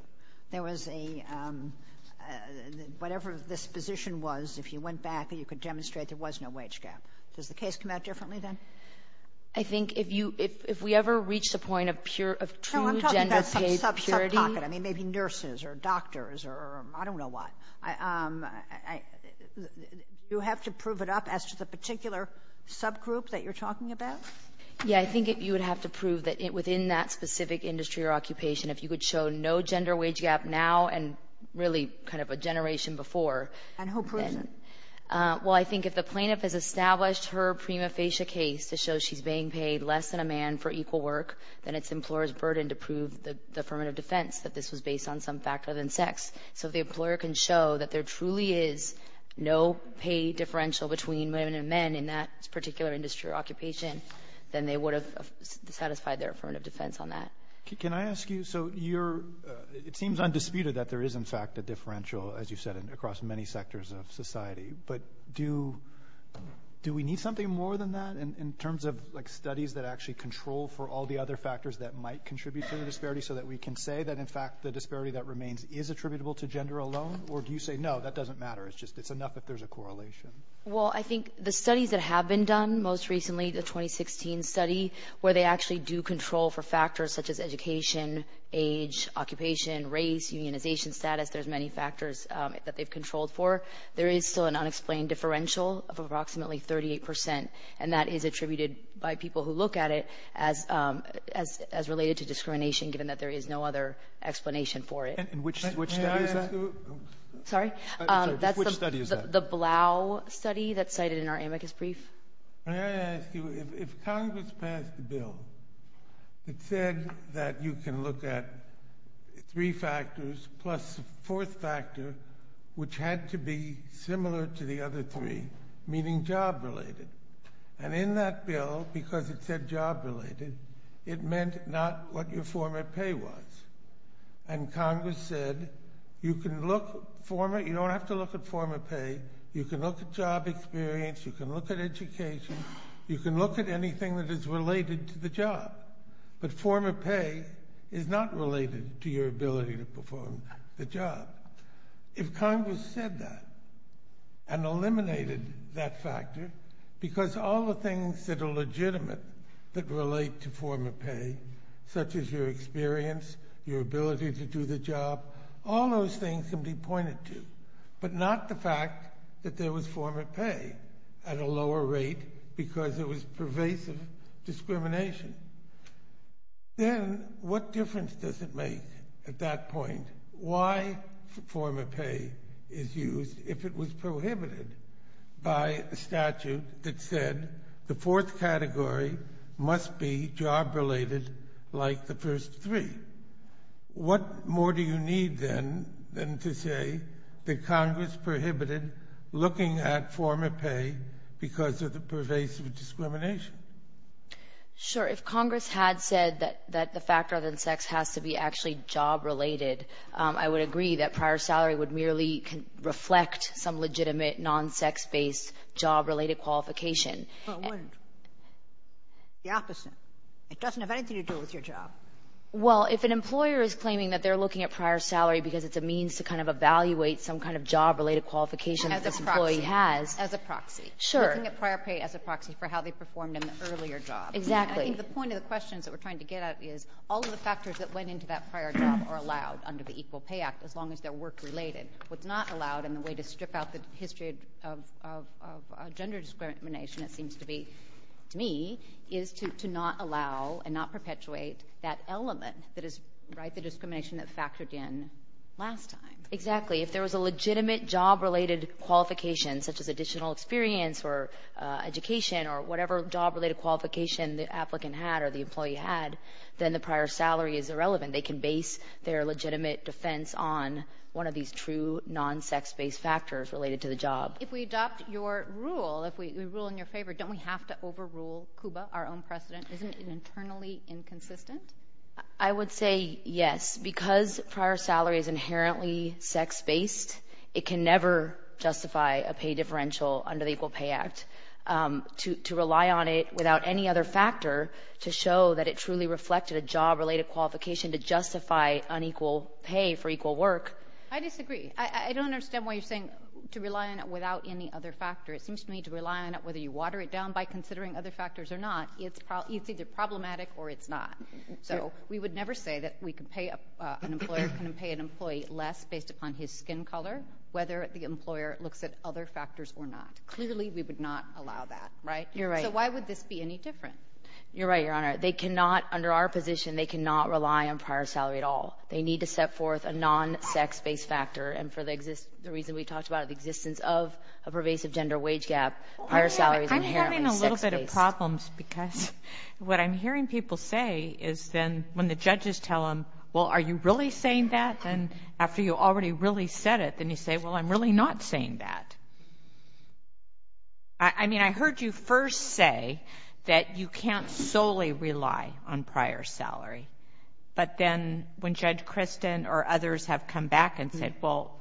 There was a, whatever this position was, if you went back and you could demonstrate there was no wage gap. Does the case come out differently then? I think if we ever reach the point of true gender paid purity. I mean, maybe nurses or doctors or I don't know what. Do you have to prove it up as just a particular subgroup that you're talking about? Yeah, I think you would have to prove that within that specific industry or occupation, if you could show no gender wage gap now and really kind of a generation before. And who proves it? Well, I think if the plaintiff has established her prima facie case to show she's being paid less than a man for equal work, then it's the employer's burden to prove the affirmative defense that this was based on some fact other than sex. So if the employer can show that there truly is no pay differential between women and men in that particular industry or occupation, then they would have satisfied their affirmative defense on that. Can I ask you? So it seems undisputed that there is, in fact, a differential, as you said, across many sectors of society. But do we need something more than that in terms of studies that actually control for all the other factors that might contribute to the disparity so that we can say that, in fact, the disparity that remains is attributable to gender alone? Or do you say, no, that doesn't matter, it's just it's enough if there's a correlation? Well, I think the studies that have been done most recently, the 2016 study, where they actually do control for factors such as education, age, occupation, race, unionization status, there's many factors that they've controlled for. There is still an unexplained differential of approximately 38%, and that is attributed by people who look at it as related to discrimination, given that there is no other explanation for it. And which study is that? Sorry? Which study is that? The Blau study that's cited in our amicus brief. May I ask you, if Congress passed a bill that said that you can look at three factors plus the fourth factor, which had to be similar to the other three, meaning job-related. And in that bill, because it said job-related, it meant not what your former pay was. And Congress said, you don't have to look at former pay, you can look at job experience, you can look at education, you can look at anything that is related to the job. But former pay is not related to your ability to perform the job. If Congress said that and eliminated that factor, because all the things that are legitimate that relate to former pay, such as your experience, your ability to do the job, all those things can be pointed to, but not the fact that there was former pay at a lower rate because it was pervasive discrimination. Then, what difference does it make at that point? Why former pay is used if it was prohibited by a statute that said the fourth category must be job-related like the first three? What more do you need, then, than to say that Congress prohibited looking at former pay because of the pervasive discrimination? Sure. If Congress had said that the factor other than sex has to be actually job-related, I would agree that prior salary would merely reflect some legitimate non-sex-based job-related qualifications. But when? The opposite. It doesn't have anything to do with your job. Well, if an employer is claiming that they're looking at prior salary because it's a means to kind of evaluate some kind of job-related qualification that this employee has. As a proxy. Sure. Looking at prior pay as a proxy for how they performed in an earlier job. Exactly. I think the point of the question that we're trying to get at is all of the factors that went into that prior job are allowed under the Equal Pay Act, as long as they're work-related. What's not allowed, and the way to strip out the history of gender discrimination, it seems to me, is to not allow and not perpetuate that element that is discrimination that factored in last time. Exactly. If there was a legitimate job-related qualification, such as additional experience or education or whatever job-related qualification the applicant had or the employee had, then the prior salary is irrelevant. They can base their legitimate defense on one of these true non-sex-based factors related to the job. If we adopt your rule, if we rule in your favor, don't we have to overrule CUBA, our own precedent? Isn't it internally inconsistent? I would say yes. Because prior salary is inherently sex-based, it can never justify a pay differential under the Equal Pay Act. To rely on it without any other factor to show that it truly reflected a job-related qualification to justify unequal pay for equal work. I disagree. I don't understand why you're saying to rely on it without any other factor. It seems to me to rely on it whether you water it down by considering other factors or not, it's either problematic or it's not. So we would never say that an employer can pay an employee less based upon his skin color, whether the employer looks at other factors or not. Clearly, we would not allow that, right? You're right. So why would this be any different? You're right, Your Honor. They cannot, under our position, they cannot rely on prior salary at all. They need to set forth a non-sex-based factor. And for the reason we talked about, the existence of a pervasive gender wage gap, prior salary is inherently sex-based. I'm having a little bit of problems because what I'm hearing people say is then when the judges tell them, well, are you really saying that? And after you already really said it, then you say, well, I'm really not saying that. I mean, I heard you first say that you can't solely rely on prior salary. But then when Judge Kristen or others have come back and said, well,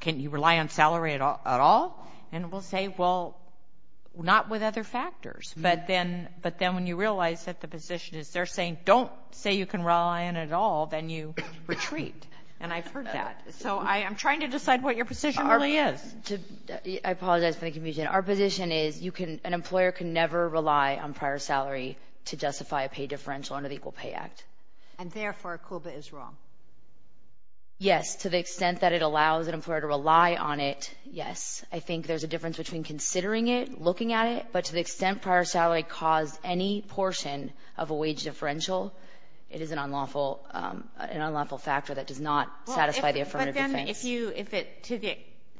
can you rely on salary at all? And we'll say, well, not with other factors. But then when you realize that the position is they're saying don't say you can rely on it at all, then you retreat. And I've heard that. So I'm trying to decide what your position really is. I apologize for the confusion. Our position is an employer can never rely on prior salary to justify a pay differential under the Equal Pay Act. And therefore, COOPA is wrong? Yes. To the extent that it allows an employer to rely on it, yes. I think there's a difference between considering it, looking at it. But to the extent prior salary caused any portion of a wage differential, it is an unlawful factor that does not satisfy the affirmative defense.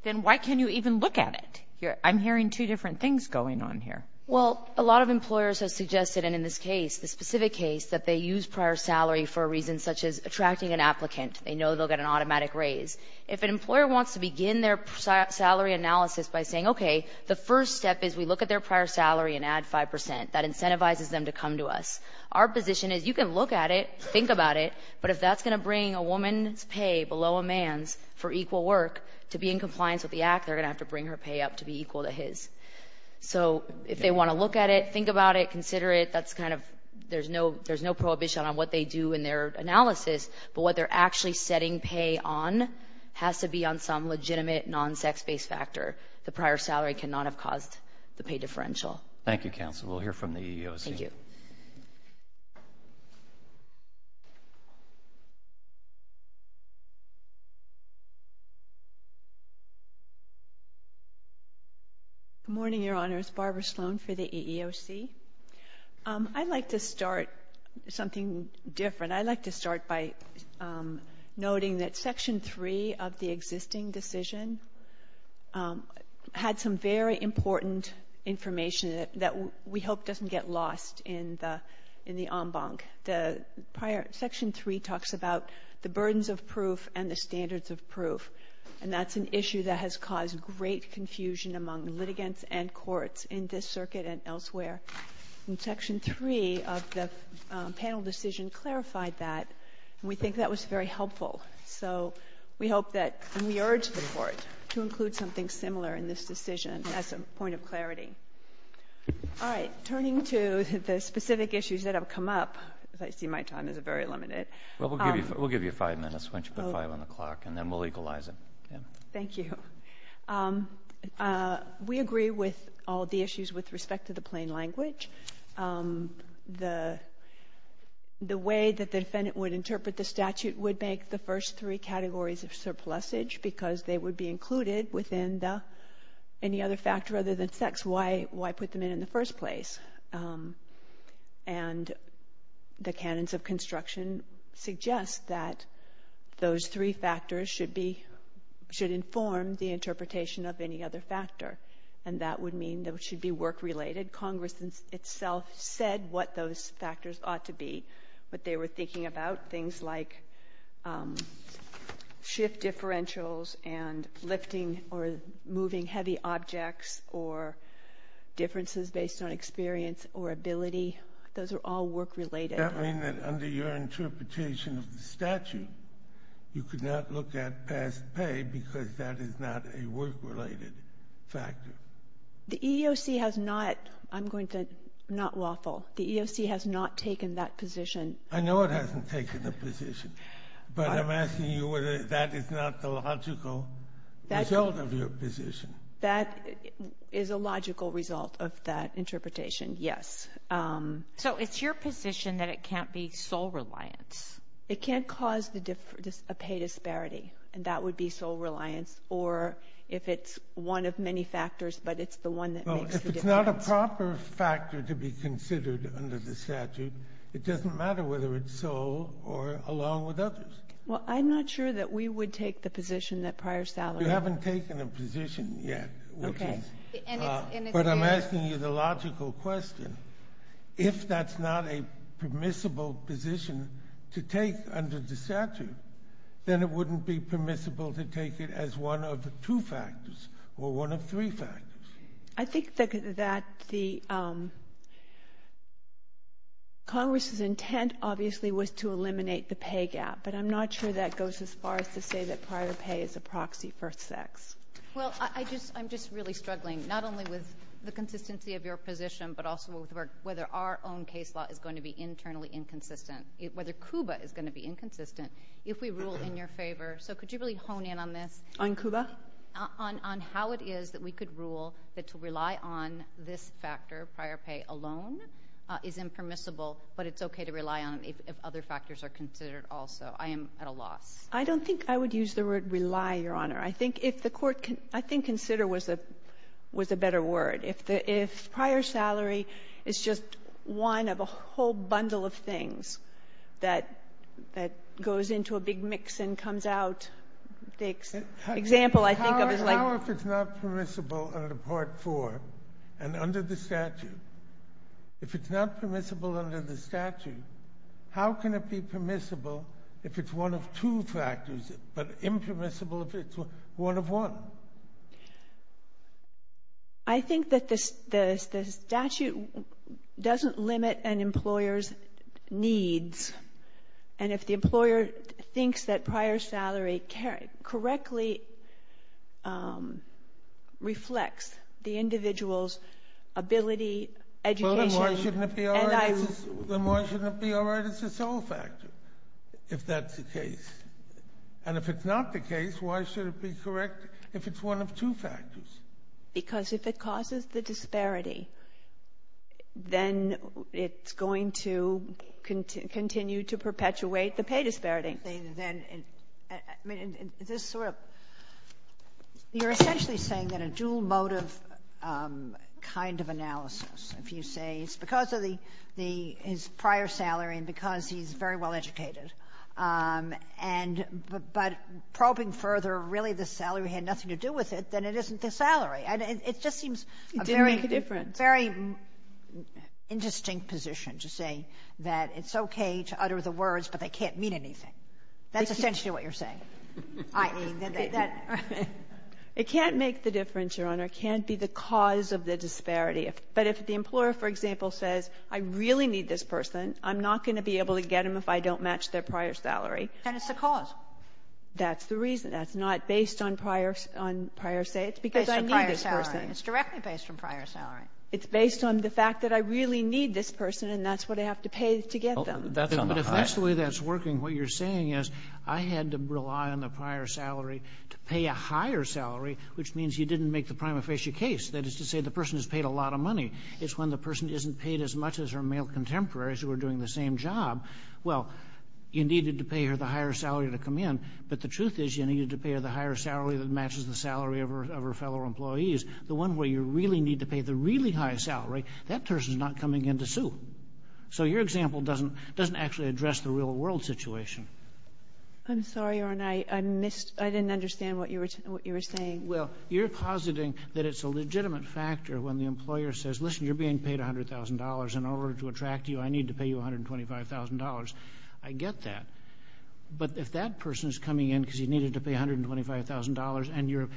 Then why can you even look at it? I'm hearing two different things going on here. Well, a lot of employers have suggested, and in this case, the specific case, that they use prior salary for a reason such as attracting an applicant. They know they'll get an automatic raise. If an employer wants to begin their salary analysis by saying, okay, the first step is we look at their prior salary and add 5%. That incentivizes them to come to us. Our position is you can look at it, think about it, but if that's going to bring a woman's pay below a man's for equal work, to be in compliance with the act, they're going to have to bring her pay up to be equal to his. So if they want to look at it, think about it, consider it, there's no prohibition on what they do in their analysis, but what they're actually setting pay on has to be on some legitimate non-sex-based factor. The prior salary cannot have caused the pay differential. Thank you, counsel. Thank you. Good morning, Your Honors. Barbara Sloan for the EEOC. I'd like to start something different. I'd like to start by noting that Section 3 of the existing decision had some very important information that we hope doesn't get lost in the en banc. Section 3 talks about the burdens of proof and the standards of proof, and that's an issue that has caused great confusion among litigants and courts in this circuit and elsewhere. In Section 3 of the panel decision clarified that, and we think that was very helpful. So we hope that we urge the court to include something similar in this decision as a point of clarity. All right. Turning to the specific issues that have come up, as I see my time is very limited. We'll give you five minutes. Why don't you put five on the clock, and then we'll legalize it. Thank you. We agree with all the issues with respect to the plain language. The way that the defendant would interpret the statute would make the first three categories of surplusage because they would be included within the any other factor other than sex. Why put them in in the first place? And the canons of construction suggest that those three factors should inform the interpretation of any other factor, and that would mean they should be work-related. Congress itself said what those factors ought to be, but they were thinking about things like shift differentials and lifting or moving heavy objects or differences based on experience or ability. Those are all work-related. Does that mean that under your interpretation of the statute, you could not look at past pay because that is not a work-related factor? The EEOC has not, I'm going to say, not lawful. The EEOC has not taken that position. I know it hasn't taken the position, but I'm asking you whether that is not a logical result of your position. That is a logical result of that interpretation, yes. So it's your position that it can't be sole reliance? It can't cause a pay disparity, and that would be sole reliance, or if it's one of many factors, but it's the one that makes the difference. If it's not a proper factor to be considered under the statute, it doesn't matter whether it's sole or along with others. Well, I'm not sure that we would take the position that prior salaries... You haven't taken a position yet. Okay. But I'm asking you the logical question. If that's not a permissible position to take under the statute, then it wouldn't be permissible to take it as one of the two factors or one of three factors. I think that the Congress's intent obviously was to eliminate the pay gap, but I'm not sure that goes as far as to say that prior pay is a proxy for sex. Well, I'm just really struggling not only with the consistency of your position but also whether our own case law is going to be internally inconsistent, whether CUBA is going to be inconsistent if we rule in your favor. So could you really hone in on this? On CUBA? On how it is that we could rule that to rely on this factor, prior pay alone, is impermissible but it's okay to rely on if other factors are considered also. I am at a loss. I don't think I would use the word rely, Your Honor. I think consider was a better word. If prior salary is just one of a whole bundle of things that goes into a big mix and comes out, for example, I think of it like – How is it not permissible under Part 4 and under the statute? If it's not permissible under the statute, how can it be permissible if it's one of two factors but impermissible if it's one of one? I think that the statute doesn't limit an employer's needs, and if the employer thinks that prior salary correctly reflects the individual's ability, education. Then why shouldn't it be all right if it's all a factor, if that's the case? And if it's not the case, why should it be correct if it's one of two factors? Because if it causes the disparity, then it's going to continue to perpetuate the pay disparity. You're essentially saying that a dual motive kind of analysis, if you say it's because of his prior salary and because he's very well educated, but probing further, really the salary had nothing to do with it, then it isn't the salary. It just seems a very interesting position to say that it's okay to utter the words but they can't mean anything. That's essentially what you're saying. It can't make the difference, Your Honor. It can't be the cause of the disparity. But if the employer, for example, says I really need this person, I'm not going to be able to get them if I don't match their prior salary. And it's the cause. That's the reason. That's not based on prior say. It's because I need this person. It's directly based on prior salary. It's based on the fact that I really need this person and that's what I have to pay to get them. But if that's the way that's working, what you're saying is, I had to rely on the prior salary to pay a higher salary, which means you didn't make the prima facie case. That is to say the person has paid a lot of money. It's when the person isn't paid as much as her male contemporaries who are doing the same job. Well, you needed to pay her the higher salary to come in, but the truth is you needed to pay her the higher salary that matches the salary of her fellow employees. The one where you really need to pay the really high salary, that person's not coming in to sue. So your example doesn't actually address the real world situation. I'm sorry, Your Honor. I didn't understand what you were saying. Well, you're positing that it's a legitimate factor when the employer says, listen, you're being paid $100,000 and in order to attract you, I need to pay you $125,000. I get that. But if that person is coming in because you needed to pay $125,000 and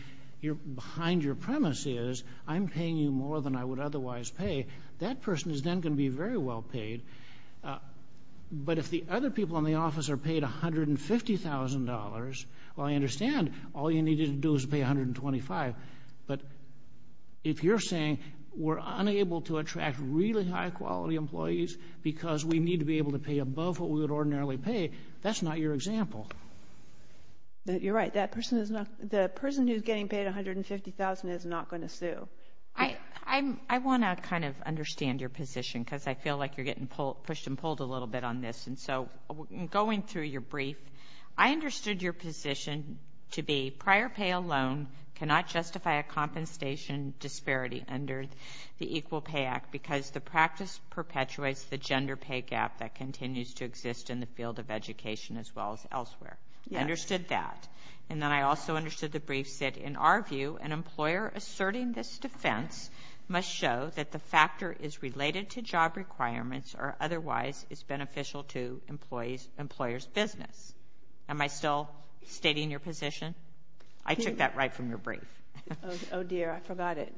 behind your premise is, I'm paying you more than I would otherwise pay, that person is then going to be very well paid. But if the other people in the office are paid $150,000, well, I understand all you needed to do was pay $125,000, but if you're saying we're unable to attract really high-quality employees because we need to be able to pay above what we would ordinarily pay, that's not your example. You're right. The person who's getting paid $150,000 is not going to sue. I want to kind of understand your position because I feel like you're getting pushed and pulled a little bit on this. So going through your brief, I understood your position to be prior pay alone cannot justify a compensation disparity under the Equal Pay Act because the practice perpetuates the gender pay gap that continues to exist in the field of education as well as elsewhere. I understood that. And then I also understood the brief said, in our view, an employer asserting this defense must show that the factor is related to job requirements or otherwise is beneficial to an employer's business. Am I still stating your position? I took that right from your brief. Oh, dear, I forgot it.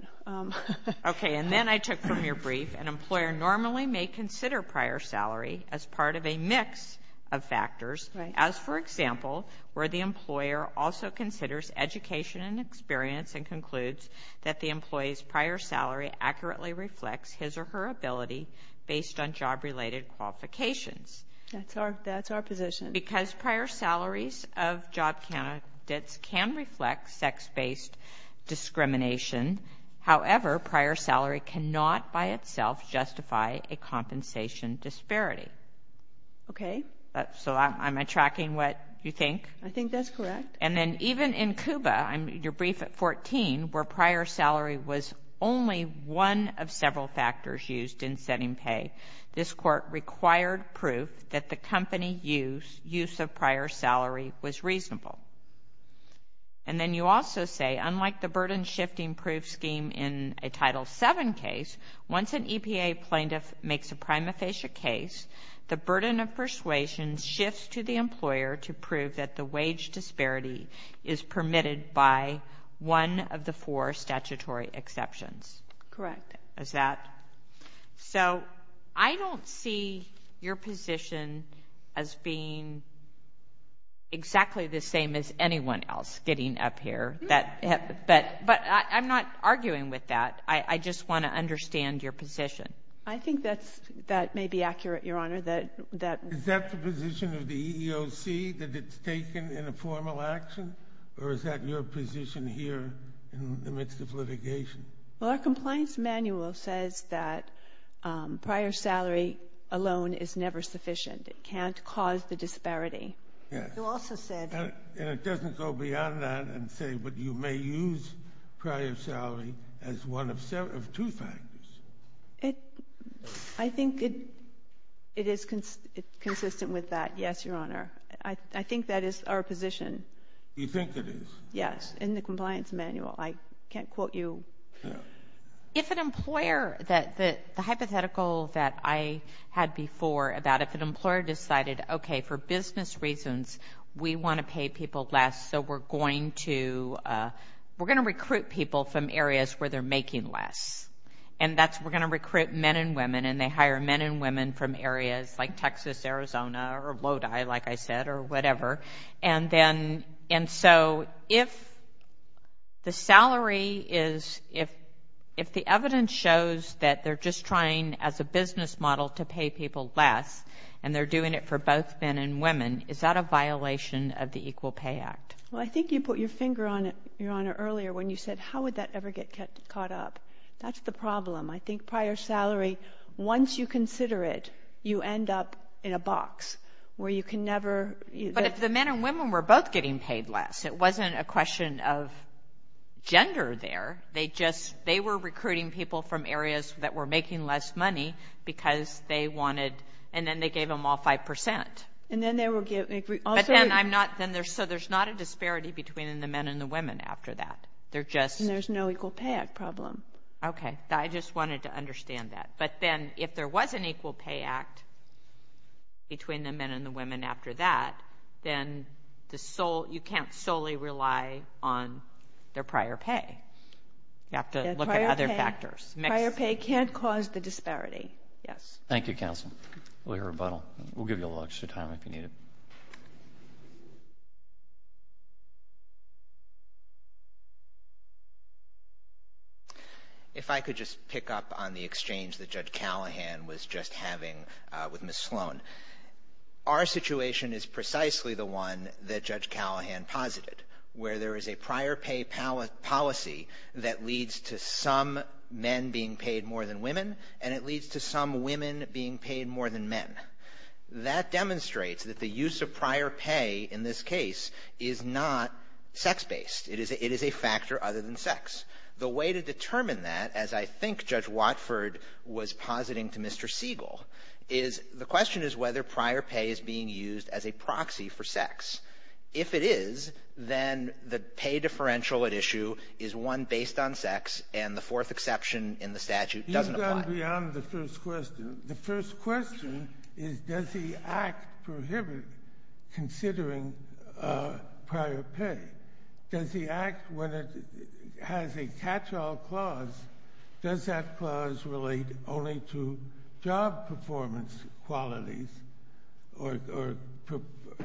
Okay, and then I took from your brief, an employer normally may consider prior salary as part of a mix of factors, as, for example, where the employer also considers education and experience and concludes that the employee's prior salary accurately reflects his or her ability based on job-related qualifications. That's our position. Because prior salaries of job candidates can reflect sex-based discrimination, however, prior salary cannot by itself justify a compensation disparity. Okay. So am I tracking what you think? I think that's correct. And then even in CUBA, your brief at 14, where prior salary was only one of several factors used in setting pay, this court required proof that the company use of prior salary was reasonable. And then you also say, unlike the burden-shifting proof scheme in a Title VII case, once an EPA plaintiff makes a prima facie case, the burden of persuasion shifts to the employer to prove that the wage disparity is permitted by one of the four statutory exceptions. Correct. Is that? Yes. So I don't see your position as being exactly the same as anyone else getting up here. But I'm not arguing with that. I just want to understand your position. I think that may be accurate, Your Honor. Is that the position of the EEOC, that it's taken in a formal action? Or is that your position here in the midst of litigation? Well, our compliance manual says that prior salary alone is never sufficient. It can't cause the disparity. Yes. And it doesn't go beyond that and say, but you may use prior salary as one of two factors. I think it is consistent with that, yes, Your Honor. I think that is our position. You think it is? Yes, in the compliance manual. I can't quote you. The hypothetical that I had before about if an employer decided, okay, for business reasons we want to pay people less, so we're going to recruit people from areas where they're making less. And we're going to recruit men and women, and they hire men and women from areas like Texas, Arizona, or Lodi, like I said, or whatever. And so if the salary is, if the evidence shows that they're just trying as a business model to pay people less and they're doing it for both men and women, is that a violation of the Equal Pay Act? Well, I think you put your finger on it, Your Honor, earlier when you said how would that ever get caught up. That's the problem. I think prior salary, once you consider it, you end up in a box where you can never. But if the men and women were both getting paid less, it wasn't a question of gender there. They just, they were recruiting people from areas that were making less money because they wanted, and then they gave them all 5%. And then they were. But then I'm not, so there's not a disparity between the men and the women after that. They're just. And there's no Equal Pay Act problem. Okay. I just wanted to understand that. But then if there was an Equal Pay Act between the men and the women after that, then the sole, you can't solely rely on their prior pay. You have to look at other factors. Prior pay can't cause the disparity. Yes. Thank you, Counsel. We'll give you a little extra time if you need it. Thank you. If I could just pick up on the exchange that Judge Callahan was just having with Ms. Sloan. Our situation is precisely the one that Judge Callahan posited, where there is a prior pay policy that leads to some men being paid more than women, and it leads to some women being paid more than men. That demonstrates that the use of prior pay in this case is not sex-based. It is a factor other than sex. The way to determine that, as I think Judge Watford was positing to Mr. Siegel, is the question is whether prior pay is being used as a proxy for sex. If it is, then the pay differential at issue is one based on sex, and the fourth exception in the statute doesn't apply. You've gone beyond the first question. The first question is does the Act prohibit considering prior pay? Does the Act, when it has a catch-all clause, does that clause relate only to job performance qualities or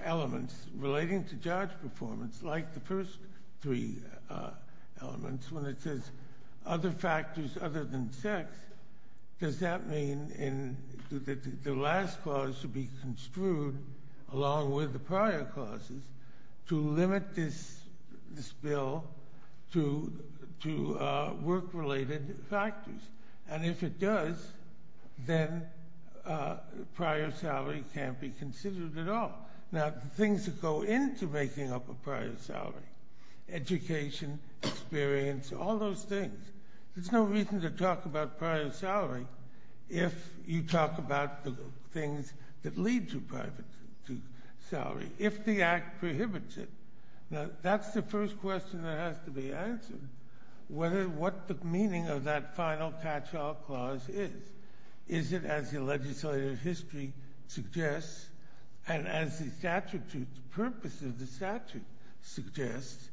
elements relating to job performance, like the first three elements, when it says other factors other than sex? Does that mean that the last clause should be construed, along with the prior clauses, to limit this bill to work-related factors? And if it does, then prior salary can't be considered at all. Now, things that go into making up a prior salary, education, experience, all those things, there's no reason to talk about prior salary if you talk about the things that lead to prior salary, if the Act prohibits it. Now, that's the first question that has to be answered, what the meaning of that final catch-all clause is. Is it, as the legislative history suggests, and as the purpose of the statute suggests,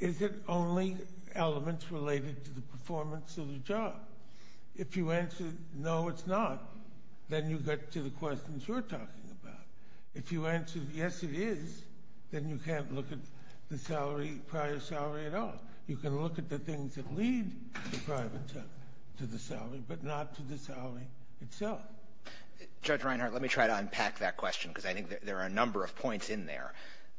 is it only elements related to the performance of the job? If you answer, no, it's not, then you get to the questions we're talking about. If you answer, yes, it is, then you can't look at the prior salary at all. You can look at the things that lead to the salary, but not to the salary itself. Judge Reinhart, let me try to unpack that question because I think there are a number of points in there.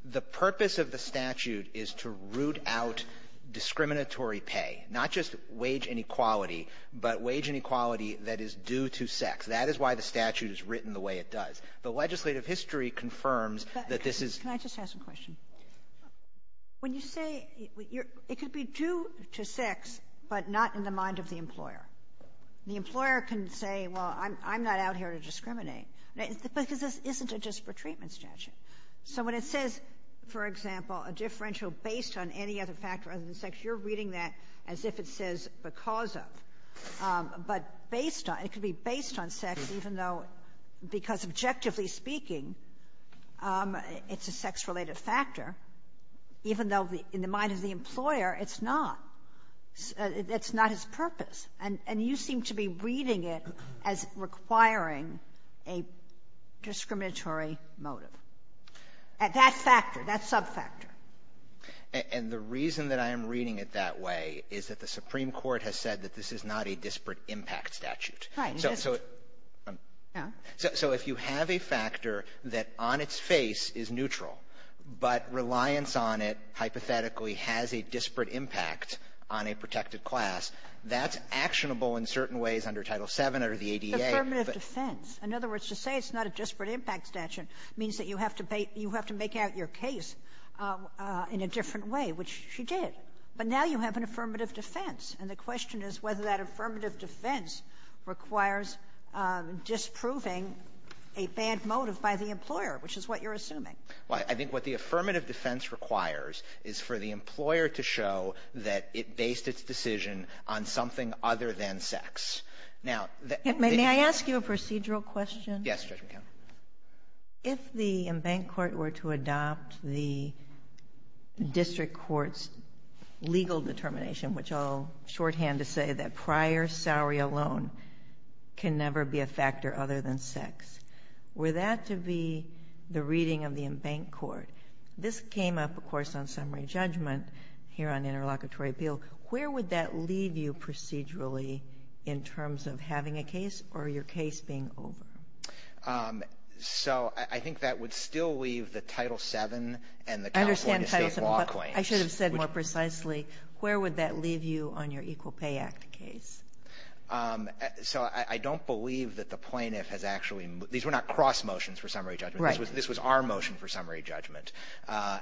The purpose of the statute is to root out discriminatory pay, not just wage inequality, but wage inequality that is due to sex. That is why the statute is written the way it does. The legislative history confirms that this is... Can I just ask a question? When you say, it could be due to sex, but not in the mind of the employer. The employer can say, well, I'm not out here to discriminate. But this isn't a disparate treatment statute. So when it says, for example, a differential based on any other factor other than sex, you're reading that as if it says because of. But it could be based on sex, even though, because objectively speaking, it's a sex-related factor, even though in the mind of the employer, it's not. That's not its purpose. And you seem to be reading it as requiring a discriminatory motive. That factor, that sub-factor. And the reason that I am reading it that way is that the Supreme Court has said that this is not a disparate impact statute. So if you have a factor that on its face is neutral, but reliance on it hypothetically has a disparate impact on a protected class, that's actionable in certain ways under Title VII or the ADA. But affirmative defense. In other words, to say it's not a disparate impact statute means that you have to make out your case in a different way, which she did. But now you have an affirmative defense. And the question is whether that affirmative defense requires disproving a bad motive by the employer, which is what you're assuming. Well, I think what the affirmative defense requires is for the employer to show that it based its decision on something other than sex. Now... May I ask you a procedural question? Yes, Judge McHenry. If the embanked court were to adopt the district court's legal determination, which I'll shorthand to say that prior salary alone can never be a factor other than sex, were that to be the reading of the embanked court, this came up, of course, on summary judgment here on interlocutory appeal, where would that leave you procedurally in terms of having a case or your case being over? So I think that would still leave the Title VII and the Conflict of State Law claims. I should have said more precisely, where would that leave you on your Equal Pay Act case? So I don't believe that the plaintiff has actually... These were not cross motions for summary judgment. This was our motion for summary judgment.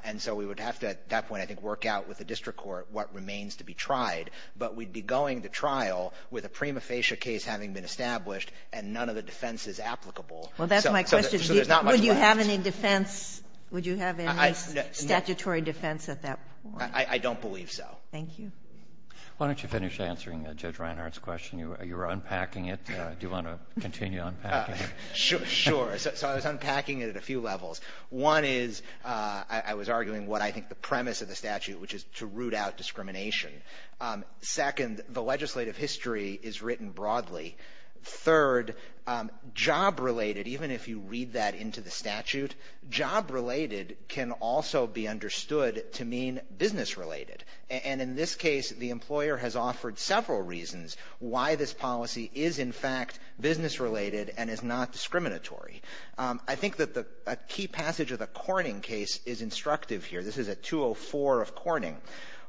And so we would have to, at that point, I think, work out with the district court what remains to be tried. But we'd be going to trial with a prima facie case having been established and none of the defense is applicable. Well, that's my question. Would you have any defense? Would you have any statutory defense at that point? I don't believe so. Thank you. Why don't you finish answering Judge Reinhardt's question? You were unpacking it. Do you want to continue unpacking it? Sure. So I was unpacking it at a few levels. One is, I was arguing what I think the premise of the statute, which is to root out discrimination. Second, the legislative history is written broadly. Third, job-related, even if you read that into the statute, job-related can also be understood to mean business-related. And in this case, the employer has offered several reasons why this policy is, in fact, business-related and is not discriminatory. I think that a key passage of the Corning case is instructive here. This is at 204 of Corning.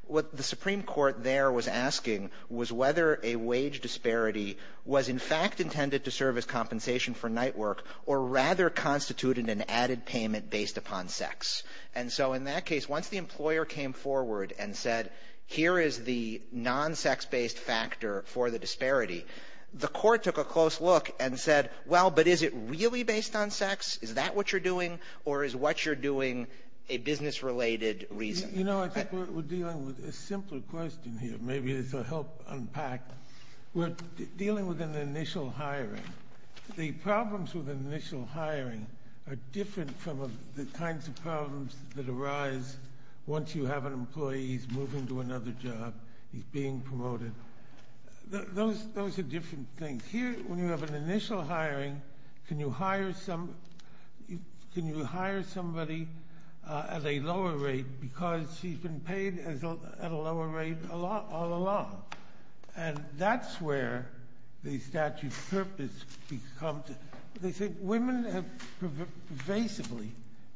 What the Supreme Court there was asking was whether a wage disparity was, in fact, intended to serve as compensation for night work or rather constituted an added payment based upon sex. And so in that case, once the employer came forward and said, here is the non-sex-based factor for the disparity, the court took a close look and said, well, but is it really based on sex? Is that what you're doing? Or is what you're doing a business-related reason? You know, I think we're dealing with a simpler question here. Maybe this will help unpack. We're dealing with an initial hiring. The problems with initial hiring are different from the kinds of problems that arise once you have an employee who's moving to another job, who's being promoted. Those are different things. Here, when you have an initial hiring, can you hire somebody at a lower rate because she's been paid at a lower rate all along? And that's where the statute of purpose comes in. Women have pervasively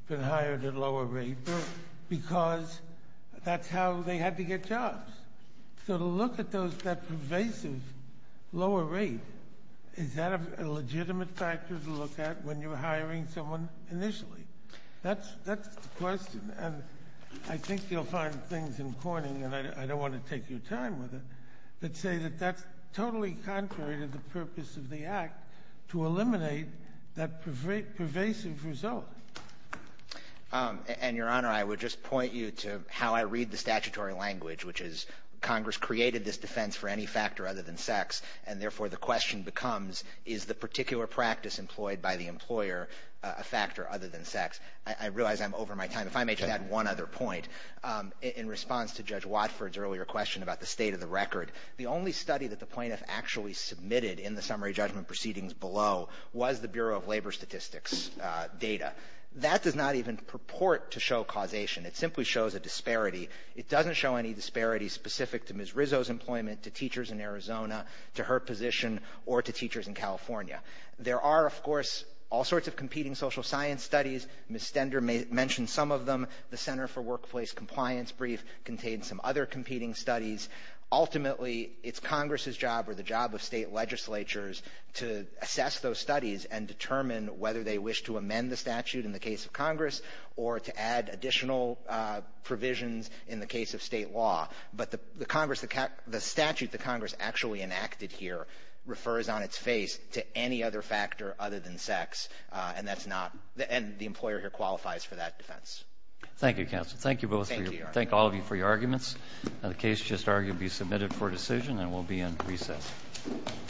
been hired at a lower rate because that's how they had to get jobs. So to look at that pervasive lower rate, is that a legitimate factor to look at when you're hiring someone initially? That's the question, and I think you'll find things in Corning, and I don't want to take your time with it, that say that that's totally contrary to the purpose of the act to eliminate that pervasive result. And, Your Honor, I would just point you to how I read the statutory language, which is Congress created this defense for any factor other than sex, and therefore the question becomes, is the particular practice employed by the employer a factor other than sex? I realize I'm over my time. If I may just add one other point. In response to Judge Watford's earlier question about the state of the record, the only study that the plaintiff actually submitted in the summary judgment proceedings below was the Bureau of Labor Statistics data. That does not even purport to show causation. It simply shows a disparity. It doesn't show any disparities specific to Ms. Rizzo's employment, to teachers in Arizona, to her position, or to teachers in California. There are, of course, all sorts of competing social science studies. Ms. Stender mentioned some of them. The Center for Workplace Compliance brief contains some other competing studies. Ultimately, it's Congress's job or the job of state legislatures to assess those studies and determine whether they wish to amend the statute in the case of Congress or to add additional provisions in the case of state law. But the statute that Congress actually enacted here refers on its face to any other factor other than sex, and the employer here qualifies for that defense. Thank you, counsel. Thank you both. Thank all of you for your arguments. The case should now be submitted for decision and will be in recess. Thank you. Thank you.